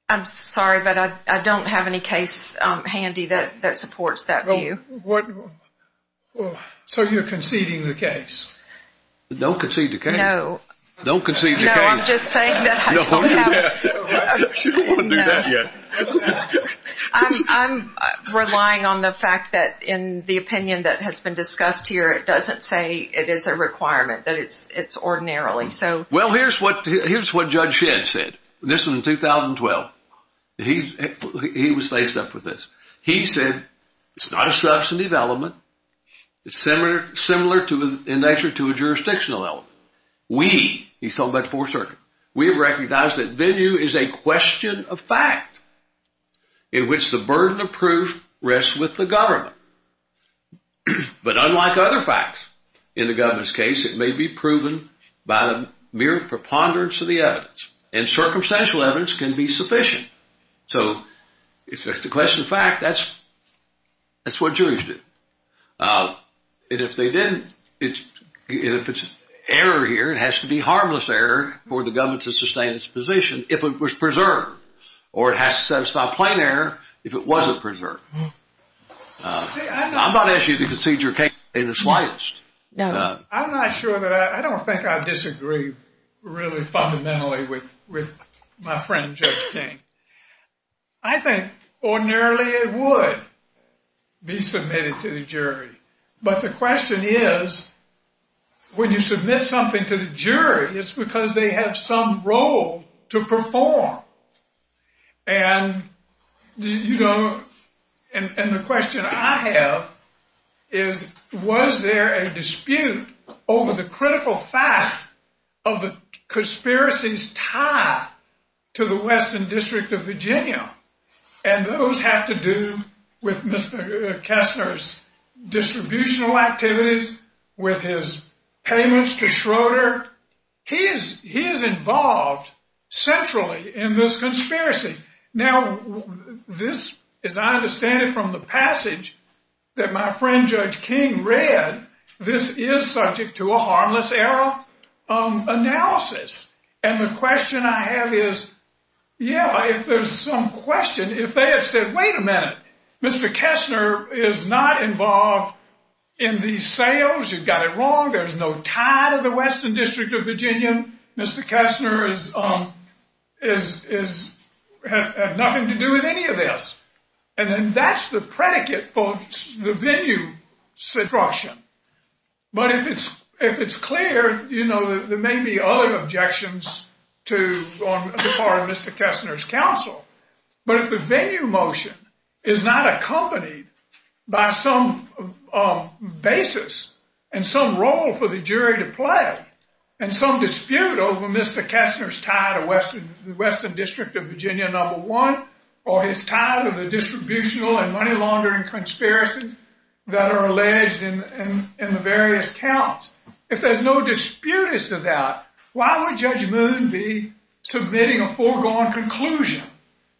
I'm sorry, but I don't have any case handy that supports that view. So you're conceding the case? Don't concede the case. No. Don't concede the case. No, I'm just saying that. You don't want to do that yet. I'm relying on the fact that in the opinion that has been discussed here, it doesn't say it is a requirement, that it's ordinarily. Well, here's what Judge Shedd said. This was in 2012. He was faced up with this. He said, it's not a substantive element. It's similar in nature to a jurisdictional element. We, he's talking about the Fourth Circuit, we recognize that venue is a question of fact in which the burden of proof rests with the government. But unlike other facts in the government's case, it may be proven by mere preponderance of the evidence. And circumstantial evidence can be sufficient. So it's a question of fact. That's what jurors do. And if they didn't, if it's error here, it has to be harmless error for the government to sustain its position if it was preserved. Or it has to satisfy plain error if it wasn't preserved. I'm not asking you to concede your case in the slightest. I'm not sure that I, I don't think I disagree really fundamentally with my friend Judge King. I think ordinarily it would be submitted to the jury. But the question is, when you submit something to the jury, it's because they have some role to perform. And, you know, and the question I have is, was there a dispute over the critical fact of the conspiracy's tie to the Western District of Virginia? And those have to do with Mr. Kessler's distributional activities, with his payments to Schroeder. He is involved centrally in this conspiracy. Now, this, as I understand it, from the passage that my friend Judge King read, this is subject to a harmless error analysis. And the question I have is, yeah, if there's some question, if they had said, wait a minute, Mr. Kessler is not involved in these sales. You've got it wrong. There's no tie to the Western District of Virginia. Mr. Kessler has nothing to do with any of this. And then that's the predicate for the venue discussion. But if it's clear, you know, there may be other objections to Mr. Kessler's counsel. But if the venue motion is not accompanied by some basis and some role for the jury to play and some dispute over Mr. Kessler's tie to the Western District of Virginia number one or his tie to the distributional and money laundering conspiracies that are alleged in the various counts, if there's no dispute as to that, why would Judge Moon be submitting a foregone conclusion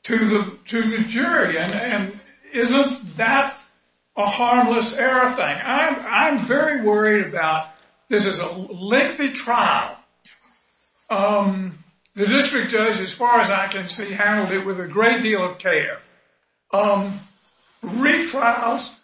to the jury? And isn't that a harmless error thing? I'm very worried about this is a lengthy trial. The district judge, as far as I can see, handled it with a great deal of care. Retrials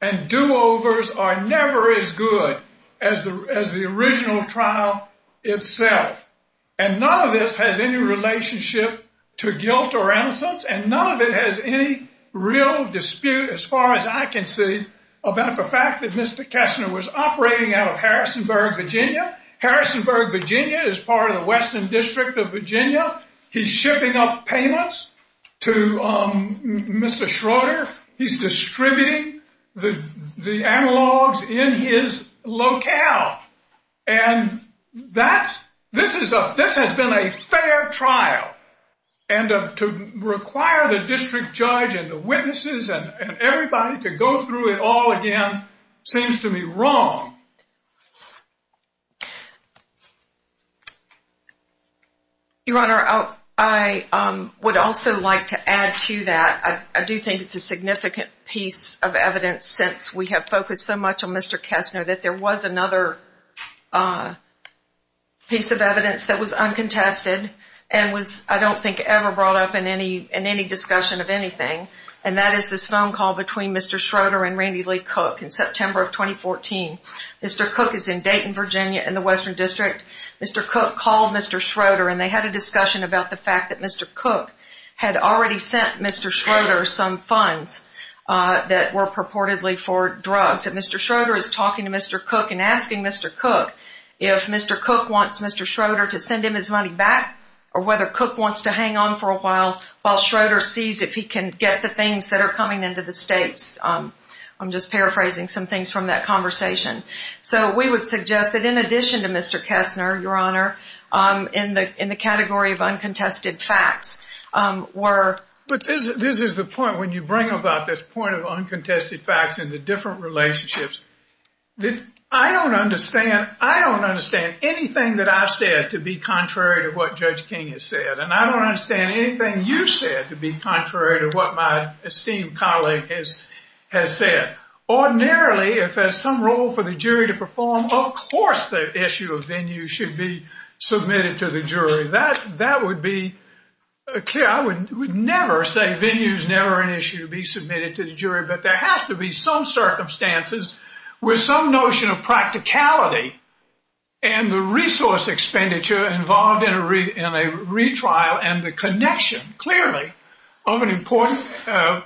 and do-overs are never as good as the original trial itself. And none of this has any relationship to guilt or innocence, and none of it has any real dispute, as far as I can see, about the fact that Mr. Kessler was operating out of Harrisonburg, Virginia. Harrisonburg, Virginia is part of the Western District of Virginia. He's shipping up payments to Mr. Schroeder. He's distributing the analogs in his locale. And this has been a fair trial. And to require the district judge and the witnesses and everybody to go through it all again seems to me wrong. Your Honor, I would also like to add to that. I do think it's a significant piece of evidence, since we have focused so much on Mr. Kessler, that there was another piece of evidence that was uncontested and was, I don't think, ever brought up in any discussion of anything, and that is this phone call between Mr. Schroeder and Randy Lee Cook in September of 2014. Mr. Cook is in Dayton, Virginia, in the Western District. Mr. Cook called Mr. Schroeder, and they had a discussion about the fact that Mr. Cook had already sent Mr. Schroeder some funds that were purportedly for drugs. And Mr. Schroeder is talking to Mr. Cook and asking Mr. Cook if Mr. Cook wants Mr. Schroeder to send him his money back or whether Cook wants to hang on for a while while Schroeder sees if he can get the things that are coming into the states. I'm just paraphrasing some things from that conversation. So we would suggest that in addition to Mr. Kessler, Your Honor, in the category of uncontested facts were... But this is the point. When you bring up this point of uncontested facts and the different relationships, I don't understand anything that I've said to be contrary to what Judge King has said, and I don't understand anything you've said to be contrary to what my esteemed colleague has said. Ordinarily, if there's some role for the jury to perform, of course the issue of venue should be submitted to the jury. That would be... I would never say venue is never an issue to be submitted to the jury, but there has to be some circumstances with some notion of practicality and the resource expenditure involved in a retrial and the connection, clearly, of an important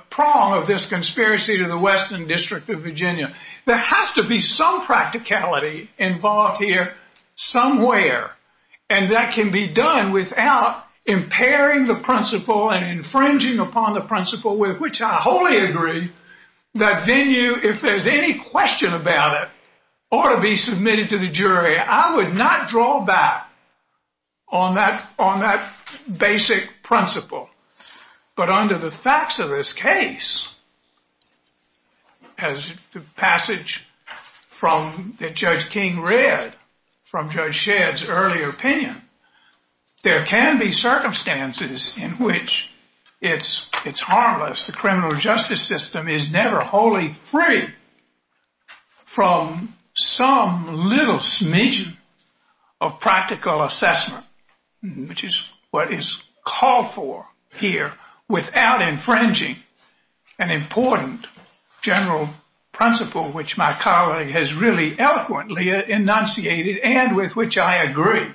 prong of this conspiracy to the Western District of Virginia. There has to be some practicality involved here somewhere, and that can be done without impairing the principle and infringing upon the principle with which I wholly agree that venue, if there's any question about it, ought to be submitted to the jury. I would not draw back on that basic principle. But under the facts of this case, as the passage that Judge King read from Judge Shedd's earlier opinion, there can be circumstances in which it's harmless. The criminal justice system is never wholly free from some little smidgen of practical assessment, which is what is called for here, without infringing an important general principle, which my colleague has really eloquently enunciated and with which I agree.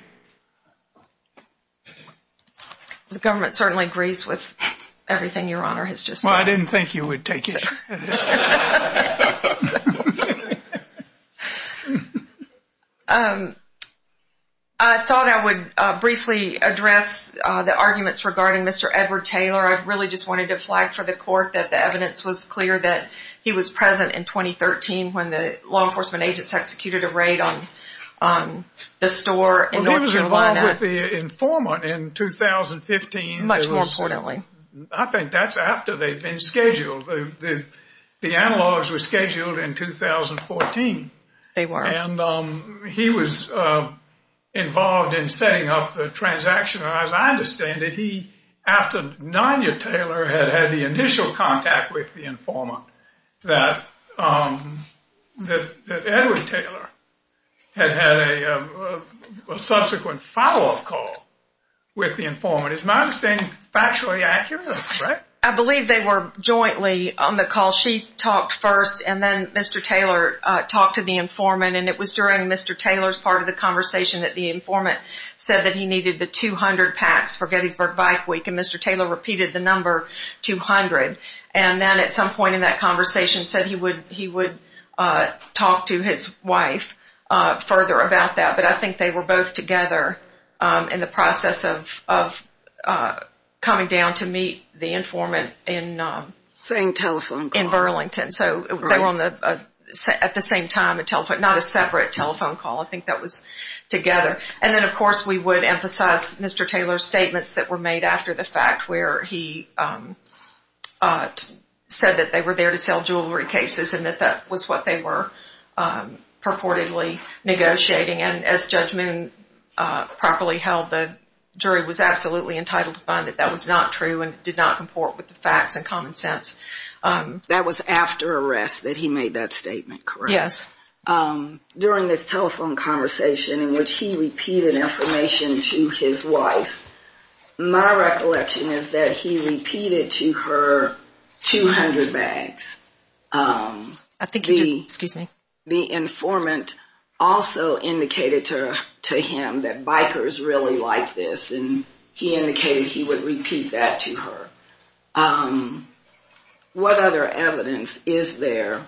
The government certainly agrees with everything Your Honor has just said. Well, I didn't think you would take it. I thought I would briefly address the arguments regarding Mr. Edward Taylor. I really just wanted to flag for the court that the evidence was clear that he was present in 2013 when the law enforcement agents executed a raid on the store. Well, he was involved with the informant in 2015. Much more importantly. I think that's after they've been scheduled. The analogs were scheduled in 2014. They were. And he was involved in setting up the transaction. As I understand it, he, after Nadia Taylor had had the initial contact with the informant, it's possible that Edward Taylor had had a subsequent follow-up call with the informant. It's my understanding factually accurate, right? I believe they were jointly on the call. She talked first, and then Mr. Taylor talked to the informant, and it was during Mr. Taylor's part of the conversation that the informant said that he needed the 200 packs for Gettysburg Bike Week, and Mr. Taylor repeated the number 200. And then at some point in that conversation said he would talk to his wife further about that. But I think they were both together in the process of coming down to meet the informant in Burlington. So they were at the same time, not a separate telephone call. I think that was together. And then, of course, we would emphasize Mr. Taylor's statements that were made after the fact, where he said that they were there to sell jewelry cases and that that was what they were purportedly negotiating. And as Judge Moon properly held, the jury was absolutely entitled to find that that was not true and did not comport with the facts and common sense. That was after arrest that he made that statement, correct? Yes. During this telephone conversation in which he repeated information to his wife, my recollection is that he repeated to her 200 bags. The informant also indicated to him that bikers really like this, and he indicated he would repeat that to her. What other evidence is there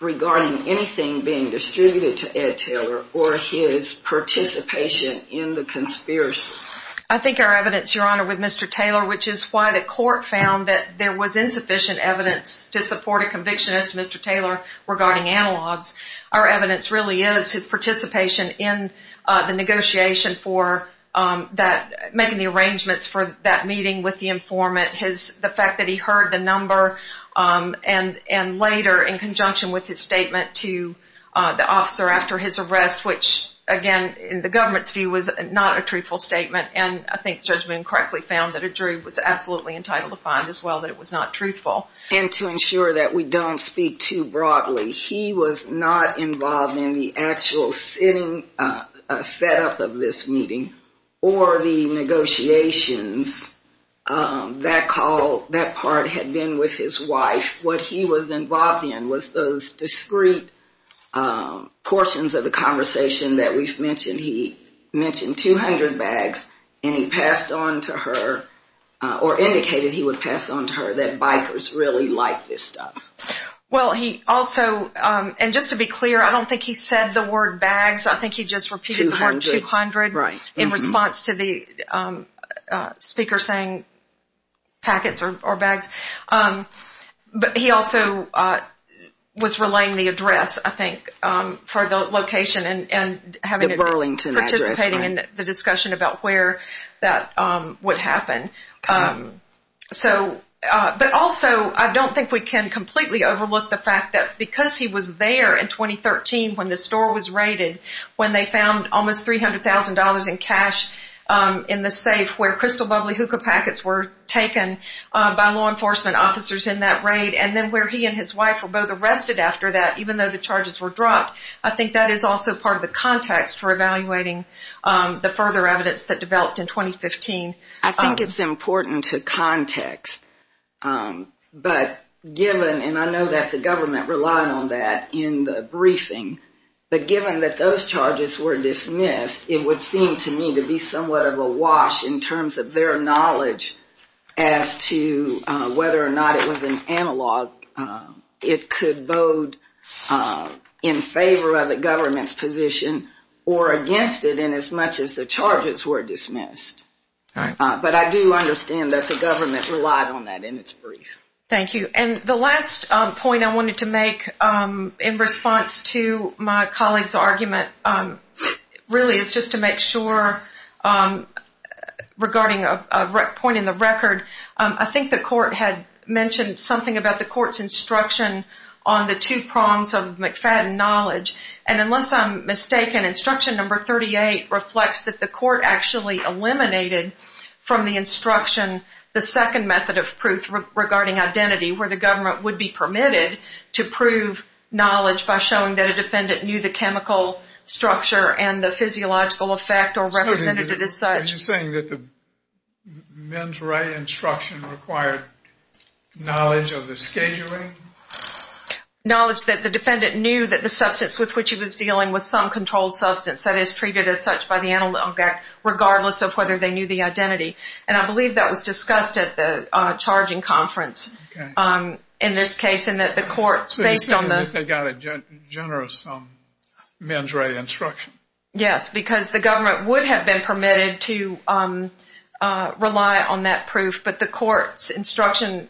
regarding anything being distributed to Ed Taylor or his participation in the conspiracy? I think our evidence, Your Honor, with Mr. Taylor, which is why the court found that there was insufficient evidence to support a conviction as to Mr. Taylor regarding analogs, our evidence really is his participation in the negotiation for making the arrangements for that meeting with the informant, the fact that he heard the number, and later in conjunction with his statement to the officer after his arrest, which again in the government's view was not a truthful statement, and I think Judge Moon correctly found that a jury was absolutely entitled to find as well that it was not truthful. And to ensure that we don't speak too broadly, he was not involved in the actual setting up of this meeting or the negotiations. That part had been with his wife. What he was involved in was those discrete portions of the conversation that we've mentioned. He mentioned 200 bags and he passed on to her or indicated he would pass on to her that bikers really like this stuff. Well, he also, and just to be clear, I don't think he said the word bags. I think he just repeated the word 200 in response to the speaker saying packets or bags. But he also was relaying the address, I think, for the location and having to participate in the discussion about where that would happen. But also, I don't think we can completely overlook the fact that because he was there in 2013 when the store was raided, when they found almost $300,000 in cash in the safe where crystal bubbly hookah packets were taken by law enforcement officers in that raid, and then where he and his wife were both arrested after that, even though the charges were dropped, I think that is also part of the context for evaluating the further evidence that developed in 2015. I think it's important to context. But given, and I know that the government relied on that in the briefing, but given that those charges were dismissed, it would seem to me to be somewhat of a wash in terms of their knowledge as to whether or not it was an analog. It could bode in favor of the government's position or against it inasmuch as the charges were dismissed. But I do understand that the government relied on that in its brief. Thank you. And the last point I wanted to make in response to my colleague's argument really is just to make sure regarding a point in the record. I think the court had mentioned something about the court's instruction on the two prongs of McFadden knowledge. And unless I'm mistaken, instruction number 38 reflects that the court actually eliminated from the instruction the second method of proof regarding identity where the government would be permitted to prove knowledge by showing that a defendant knew the chemical structure and the physiological effect or represented it as such. Are you saying that the men's right instruction required knowledge of the scheduling? Knowledge that the defendant knew that the substance with which he was dealing was some controlled substance that is treated as such by the analog act regardless of whether they knew the identity. And I believe that was discussed at the charging conference in this case and that the court based on the- So you're saying that they got a generous men's right instruction. Yes, because the government would have been permitted to rely on that proof, but the court's instruction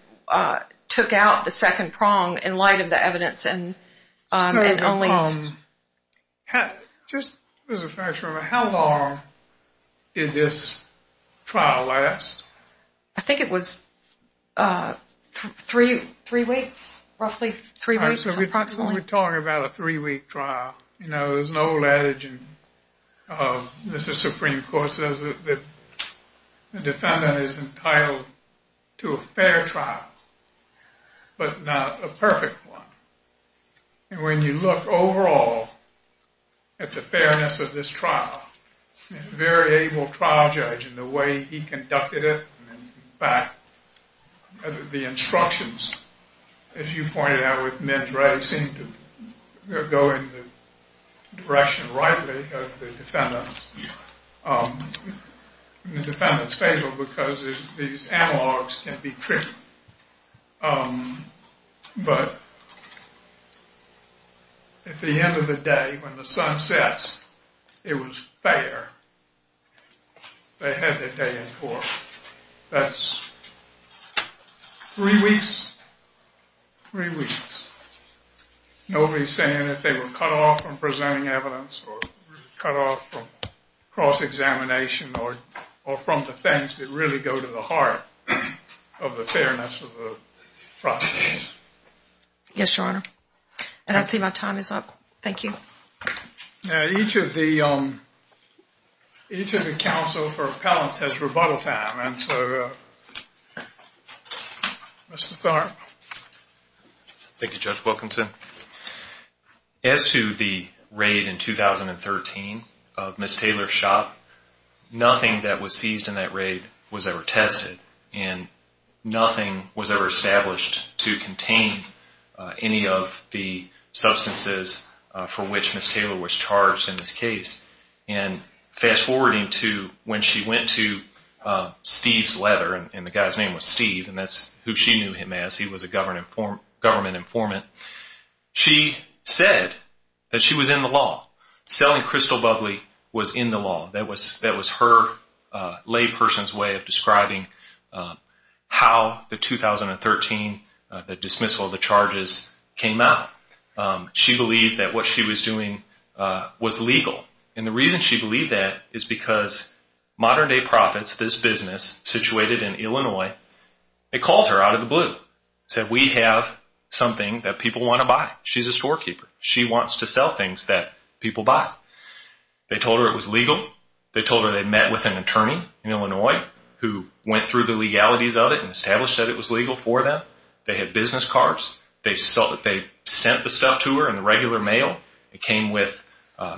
took out the second prong in light of the evidence and only- Just as a finisher, how long did this trial last? I think it was three weeks, roughly three weeks. We're probably going to talk about a three-week trial. You know, there's an old adage of Mr. Supreme Court says that the defendant is entitled to a fair trial, but not a perfect one. And when you look overall at the fairness of this trial, it's a very able trial judge in the way he conducted it. In fact, the instructions, as you pointed out, with men's rights seem to go in the direction rightly of the defendant's table because these analogs can be tricky. But at the end of the day, when the sun sets, it was fair. They had their day in court. That's three weeks, three weeks. Nobody's saying that they were cut off from presenting evidence or cut off from cross-examination or from defense that really go to the heart of the fairness of the prosecution. Yes, Your Honor. I don't see my time is up. Thank you. Now, each of the counsel for appellant has rebuttal time. And so, Mr. Thornton. Thank you, Judge Wilkinson. As to the raid in 2013 of Ms. Taylor's shop, nothing that was seized in that raid was ever tested and nothing was ever established to contain any of the substances for which Ms. Taylor was charged in this case. And fast-forwarding to when she went to Steve's letter, and the guy's name was Steve, and that's who she knew him as. He was a government informant. She said that she was in the law. Selling crystal bubbly was in the law. That was her layperson's way of describing how the 2013 dismissal of the charges came out. She believed that what she was doing was legal. And the reason she believed that is because Modern Day Profits, this business situated in Illinois, it called her out of the blue. It said we have something that people want to buy. She's a storekeeper. She wants to sell things that people buy. They told her it was legal. They told her they met with an attorney in Illinois who went through the legalities of it and established that it was legal for them. They had business cards. They sent the stuff to her in regular mail. It came with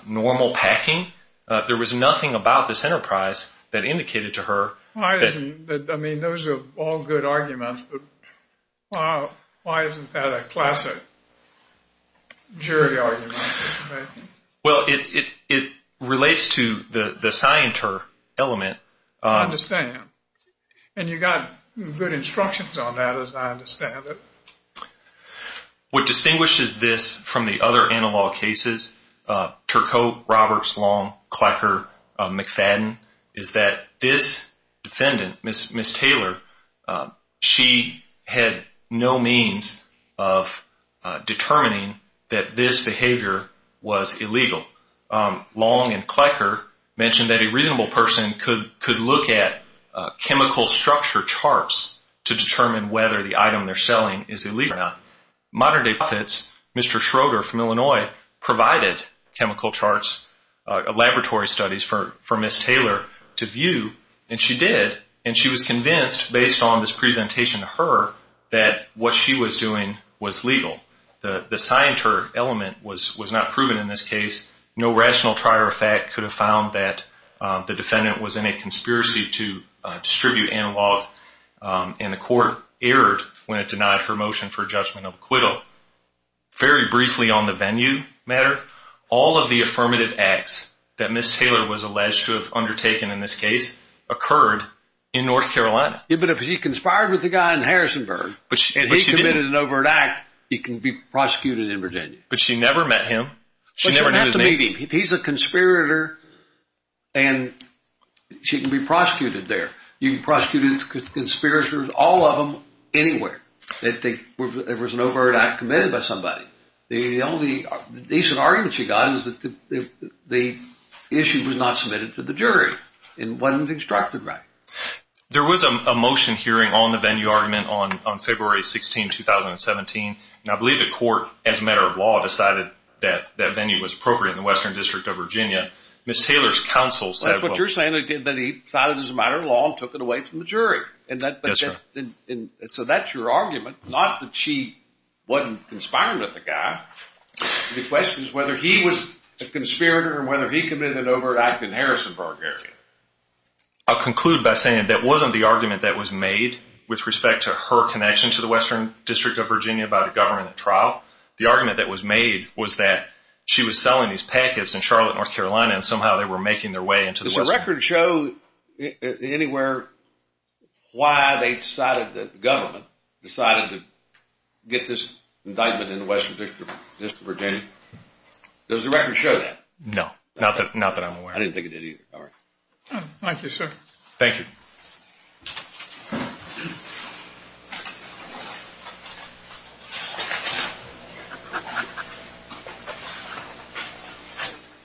normal packing. There was nothing about this enterprise that indicated to her. I mean, those are all good arguments, but why isn't that a classic jury argument? Well, it relates to the scienter element. I understand. And you got good instructions on that, as I understand it. What distinguishes this from the other analog cases, Turcotte, Roberts, Long, Klecker, McFadden, is that this defendant, Ms. Taylor, she had no means of determining that this behavior was illegal. Long and Klecker mentioned that a reasonable person could look at chemical structure charts to determine whether the item they're selling is illegal or not. Modern-day defense, Mr. Schroeder from Illinois provided chemical charts, laboratory studies for Ms. Taylor to view, and she did. And she was convinced, based on this presentation to her, that what she was doing was legal. The scienter element was not proven in this case. No rational prior effect could have found that the defendant was in a conspiracy to distribute analog, and the court erred when it denied her motion for judgment of acquittal. Very briefly on the venue matter, all of the affirmative acts that Ms. Taylor was alleged to have undertaken in this case occurred in North Carolina. But if she conspired with the guy in Harrisonburg, and he committed an overt act, he can be prosecuted in Virginia. But she never met him. She never met him. He's a conspirator, and she can be prosecuted there. You can prosecute conspirators, all of them, anywhere. If there was an overt act committed by somebody. The only decent argument she got was that the issue was not submitted to the jury and wasn't instructed by him. There was a motion hearing on the venue argument on February 16, 2017, and I believe the court, as a matter of law, decided that that venue was appropriate in the Western District of Virginia. Ms. Taylor's counsel said… That's what you're saying, that he decided as a matter of law and took it away from the jury. So that's your argument, not that she wasn't conspiring with the guy. The question is whether he was a conspirator and whether he committed an overt act in Harrisonburg area. I'll conclude by saying that wasn't the argument that was made with respect to her connection to the Western District of Virginia by the government at trial. The argument that was made was that she was selling these packets in Charlotte, North Carolina, and somehow they were making their way into the Western District. Does the record show anywhere why they decided that the government decided to get this indictment in the Western District of Virginia? Does the record show that? No, not that I'm aware of. Thank you, sir. Thank you.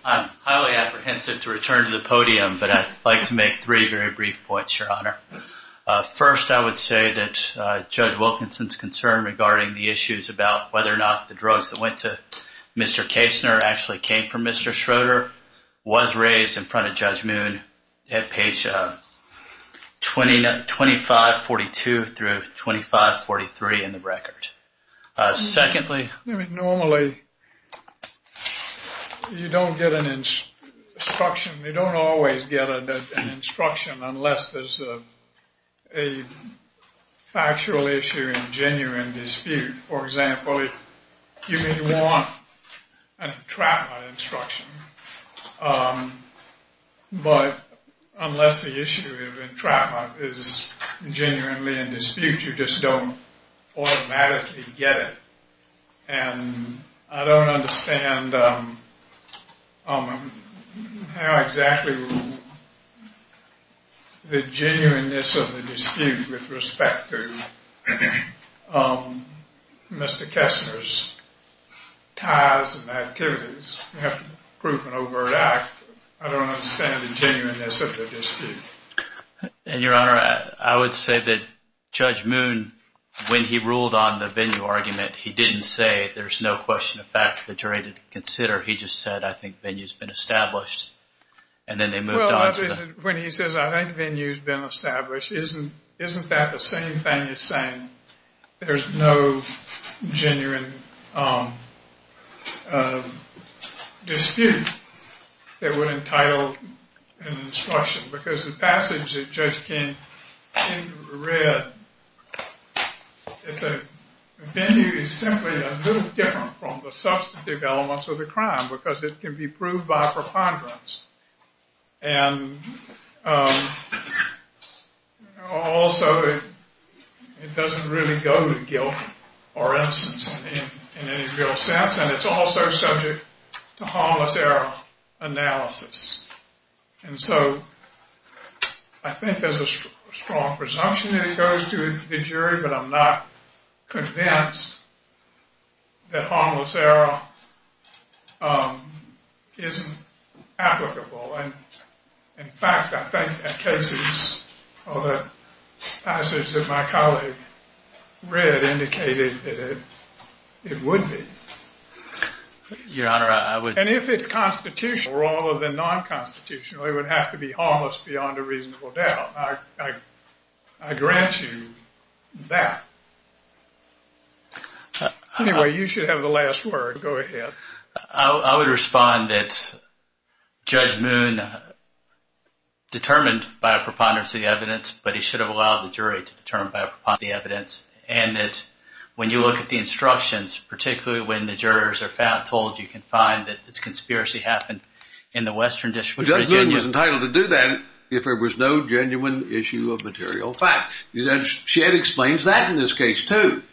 I'm highly apprehensive to return to the podium, but I'd like to make three very brief points, Your Honor. First, I would say that Judge Wilkinson's concern regarding the issues about whether or not the drugs that went to Mr. Kasner actually came from Mr. Schroeder was raised in front of Judge Moon at page 2542 through 2543 in the record. Normally, you don't get an instruction. You don't always get an instruction unless there's a factual issue and genuine dispute. For example, you may want a trap nut instruction, but unless the issue of a trap nut is genuinely in dispute, you just don't automatically get it. I don't understand how exactly the genuineness of the dispute with respect to Mr. Kasner's ties and activities. You have to prove an overt act. I don't understand the genuineness of the dispute. And, Your Honor, I would say that Judge Moon, when he ruled on the venue argument, he didn't say there's no question of fact that you're ready to consider. He just said, I think venue's been established, and then they moved on. When he says, I think venue's been established, isn't that the same thing as saying there's no genuine dispute that were entitled in the instruction? Because the passage that Judge King read, the venue is simply a little different from the substantive elements of the crime because it can be proved by preponderance. Also, it doesn't really go with guilt or innocence in any real sense, and it's also subject to harmless error analysis. And so, I think there's a strong presumption that it goes to the jury, but I'm not convinced that harmless error isn't applicable. And, in fact, I think that cases of the passage that my colleague read indicated that it would be. Your Honor, I would... And if it's constitutional rather than non-constitutional, it would have to be harmless beyond a reasonable doubt. I grant you that. Anyway, you should have the last word. Go ahead. I would respond that Judge Moon determined by a preponderance of the evidence, but he should have allowed the jury to determine by a preponderance of the evidence. And that when you look at the instructions, particularly when the jurors are told you can find that the conspiracy happened in the Western District of Virginia... Judge Moon was entitled to do that if there was no genuine issue of material fact. And she explains that in this case, too.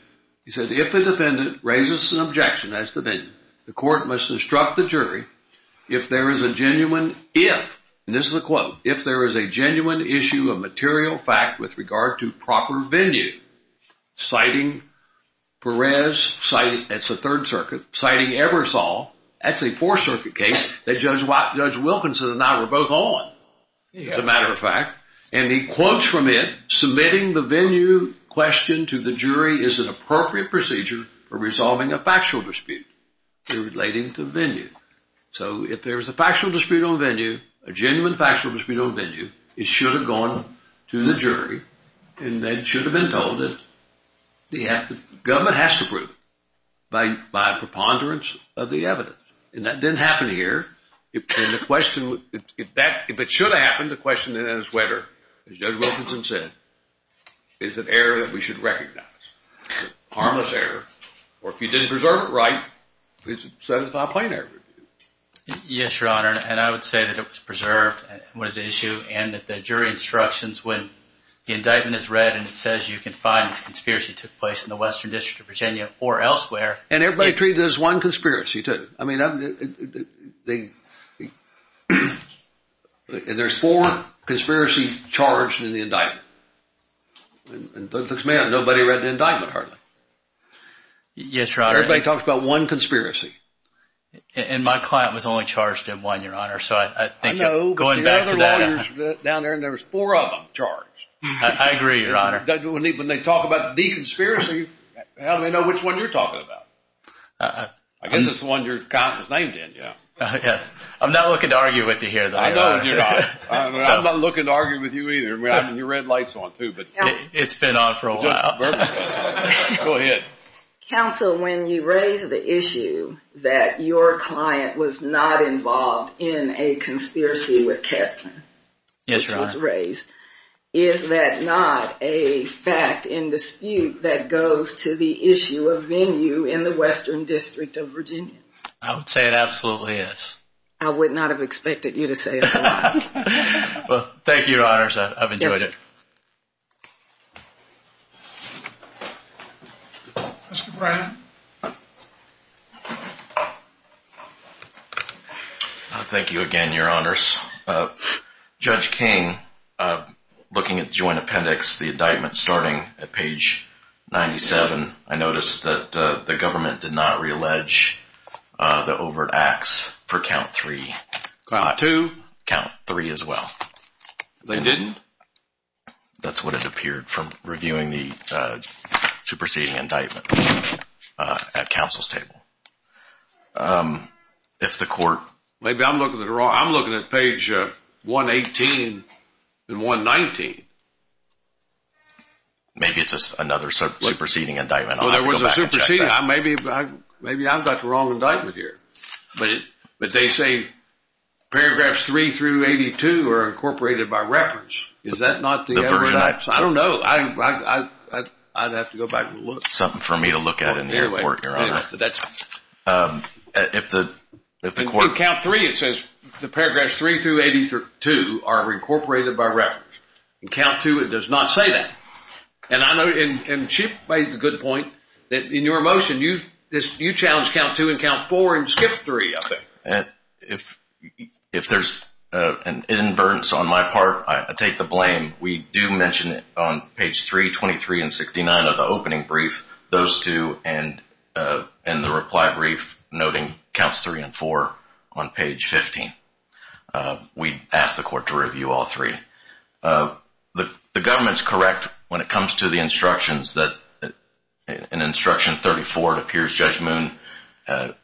She says, if a defendant raises an objection, that's the venue, the court must instruct the jury if there is a genuine if, and this is a quote, if there is a genuine issue of material fact with regard to proper venue, citing Perez, citing... That's the Third Circuit. Citing Ebersol, that's a Fourth Circuit case that Judge Wilkinson and I were both on, as a matter of fact. And he quotes from it, submitting the venue question to the jury is an appropriate procedure for resolving a factual dispute relating to venue. So if there's a factual dispute on venue, a genuine factual dispute on venue, it should have gone to the jury, and they should have been told that the government has to prove it by a preponderance of the evidence. And that didn't happen here. And the question... If it should have happened, the question is whether, as Judge Wilkinson said, is an error that we should recognize. Harmless error. Or if you didn't preserve it right, it's a satisfied plenary review. Yes, Your Honor, and I would say that it was preserved was the issue, and that the jury instructions when the indictment is read and it says you can find a conspiracy took place in the Western District of Virginia or elsewhere... And everybody agreed there's one conspiracy, too. I mean, they... There's four conspiracies charged in the indictment. Nobody read the indictment, hardly. Yes, Your Honor. Everybody talks about one conspiracy. And my client was only charged in one, Your Honor, so I think going back to that... I know, but the other one is down there, and there's four of them charged. I agree, Your Honor. When they talk about the conspiracy, how do they know which one you're talking about? I guess it's the one your counsel's name's in, you know. I'm not looking to argue with you here, though. I'm not looking to argue with you either. Your red light's on, too, but... It's been on for a while. Go ahead. Counsel, when you raise the issue that your client was not involved in a conspiracy with Katzen... Yes, Your Honor. ...which was raised, is that not a fact in dispute that goes to the issue of venue in the Western District of Virginia? I would say it absolutely is. I would not have expected you to say it's not. Well, thank you, Your Honors. I've enjoyed it. Mr. Brannon. Thank you again, Your Honors. Judge King, looking at the Joint Appendix, the indictment, starting at page 97, I noticed that the government did not reallege the overt acts for count three. Count two. Count three as well. They didn't? That's what it appeared from reviewing the superseding indictment at counsel's table. If the court... Maybe I'm looking at it wrong. I'm looking at page 118 and 119. Maybe it's another superseding indictment. Well, there was a superseding. Maybe I've got the wrong indictment here. But they say paragraphs three through 82 are incorporated by reference. Is that not the overt acts? I don't know. I'd have to go back and look. Something for me to look at in the report, Your Honor. If the court... In count three, it says the paragraphs three through 82 are incorporated by reference. In count two, it does not say that. And Chip made a good point. In your motion, you challenged count two and count four and skipped three, I think. If there's an inadvertence on my part, I take the blame. We do mention it on page 323 and 69 of the opening brief. Those two and the reply brief noting counts three and four on page 15. We ask the court to review all three. The government's correct when it comes to the instructions. In instruction 34, it appears Judge Moon,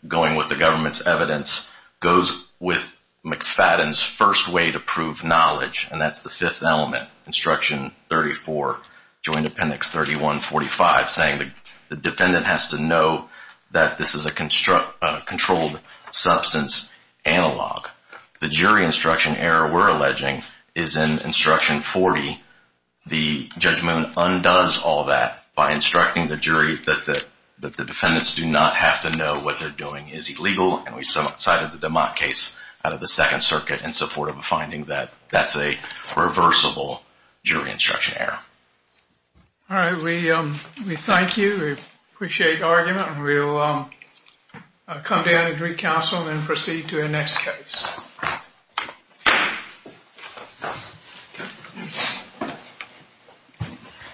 going with the government's evidence, goes with McFadden's first way to prove knowledge, and that's the fifth element. Instruction 34, Joint Appendix 3145, saying the defendant has to know that this is a controlled substance analog. The jury instruction error we're alleging is in instruction 40. The Judge Moon undoes all that by instructing the jury that the defendants do not have to know what they're doing is illegal, and we cited the DeMott case out of the Second Circuit in support of a finding that that's a reversible jury instruction error. All right. We thank you. We appreciate the argument. We will come down to the council and proceed to the next case.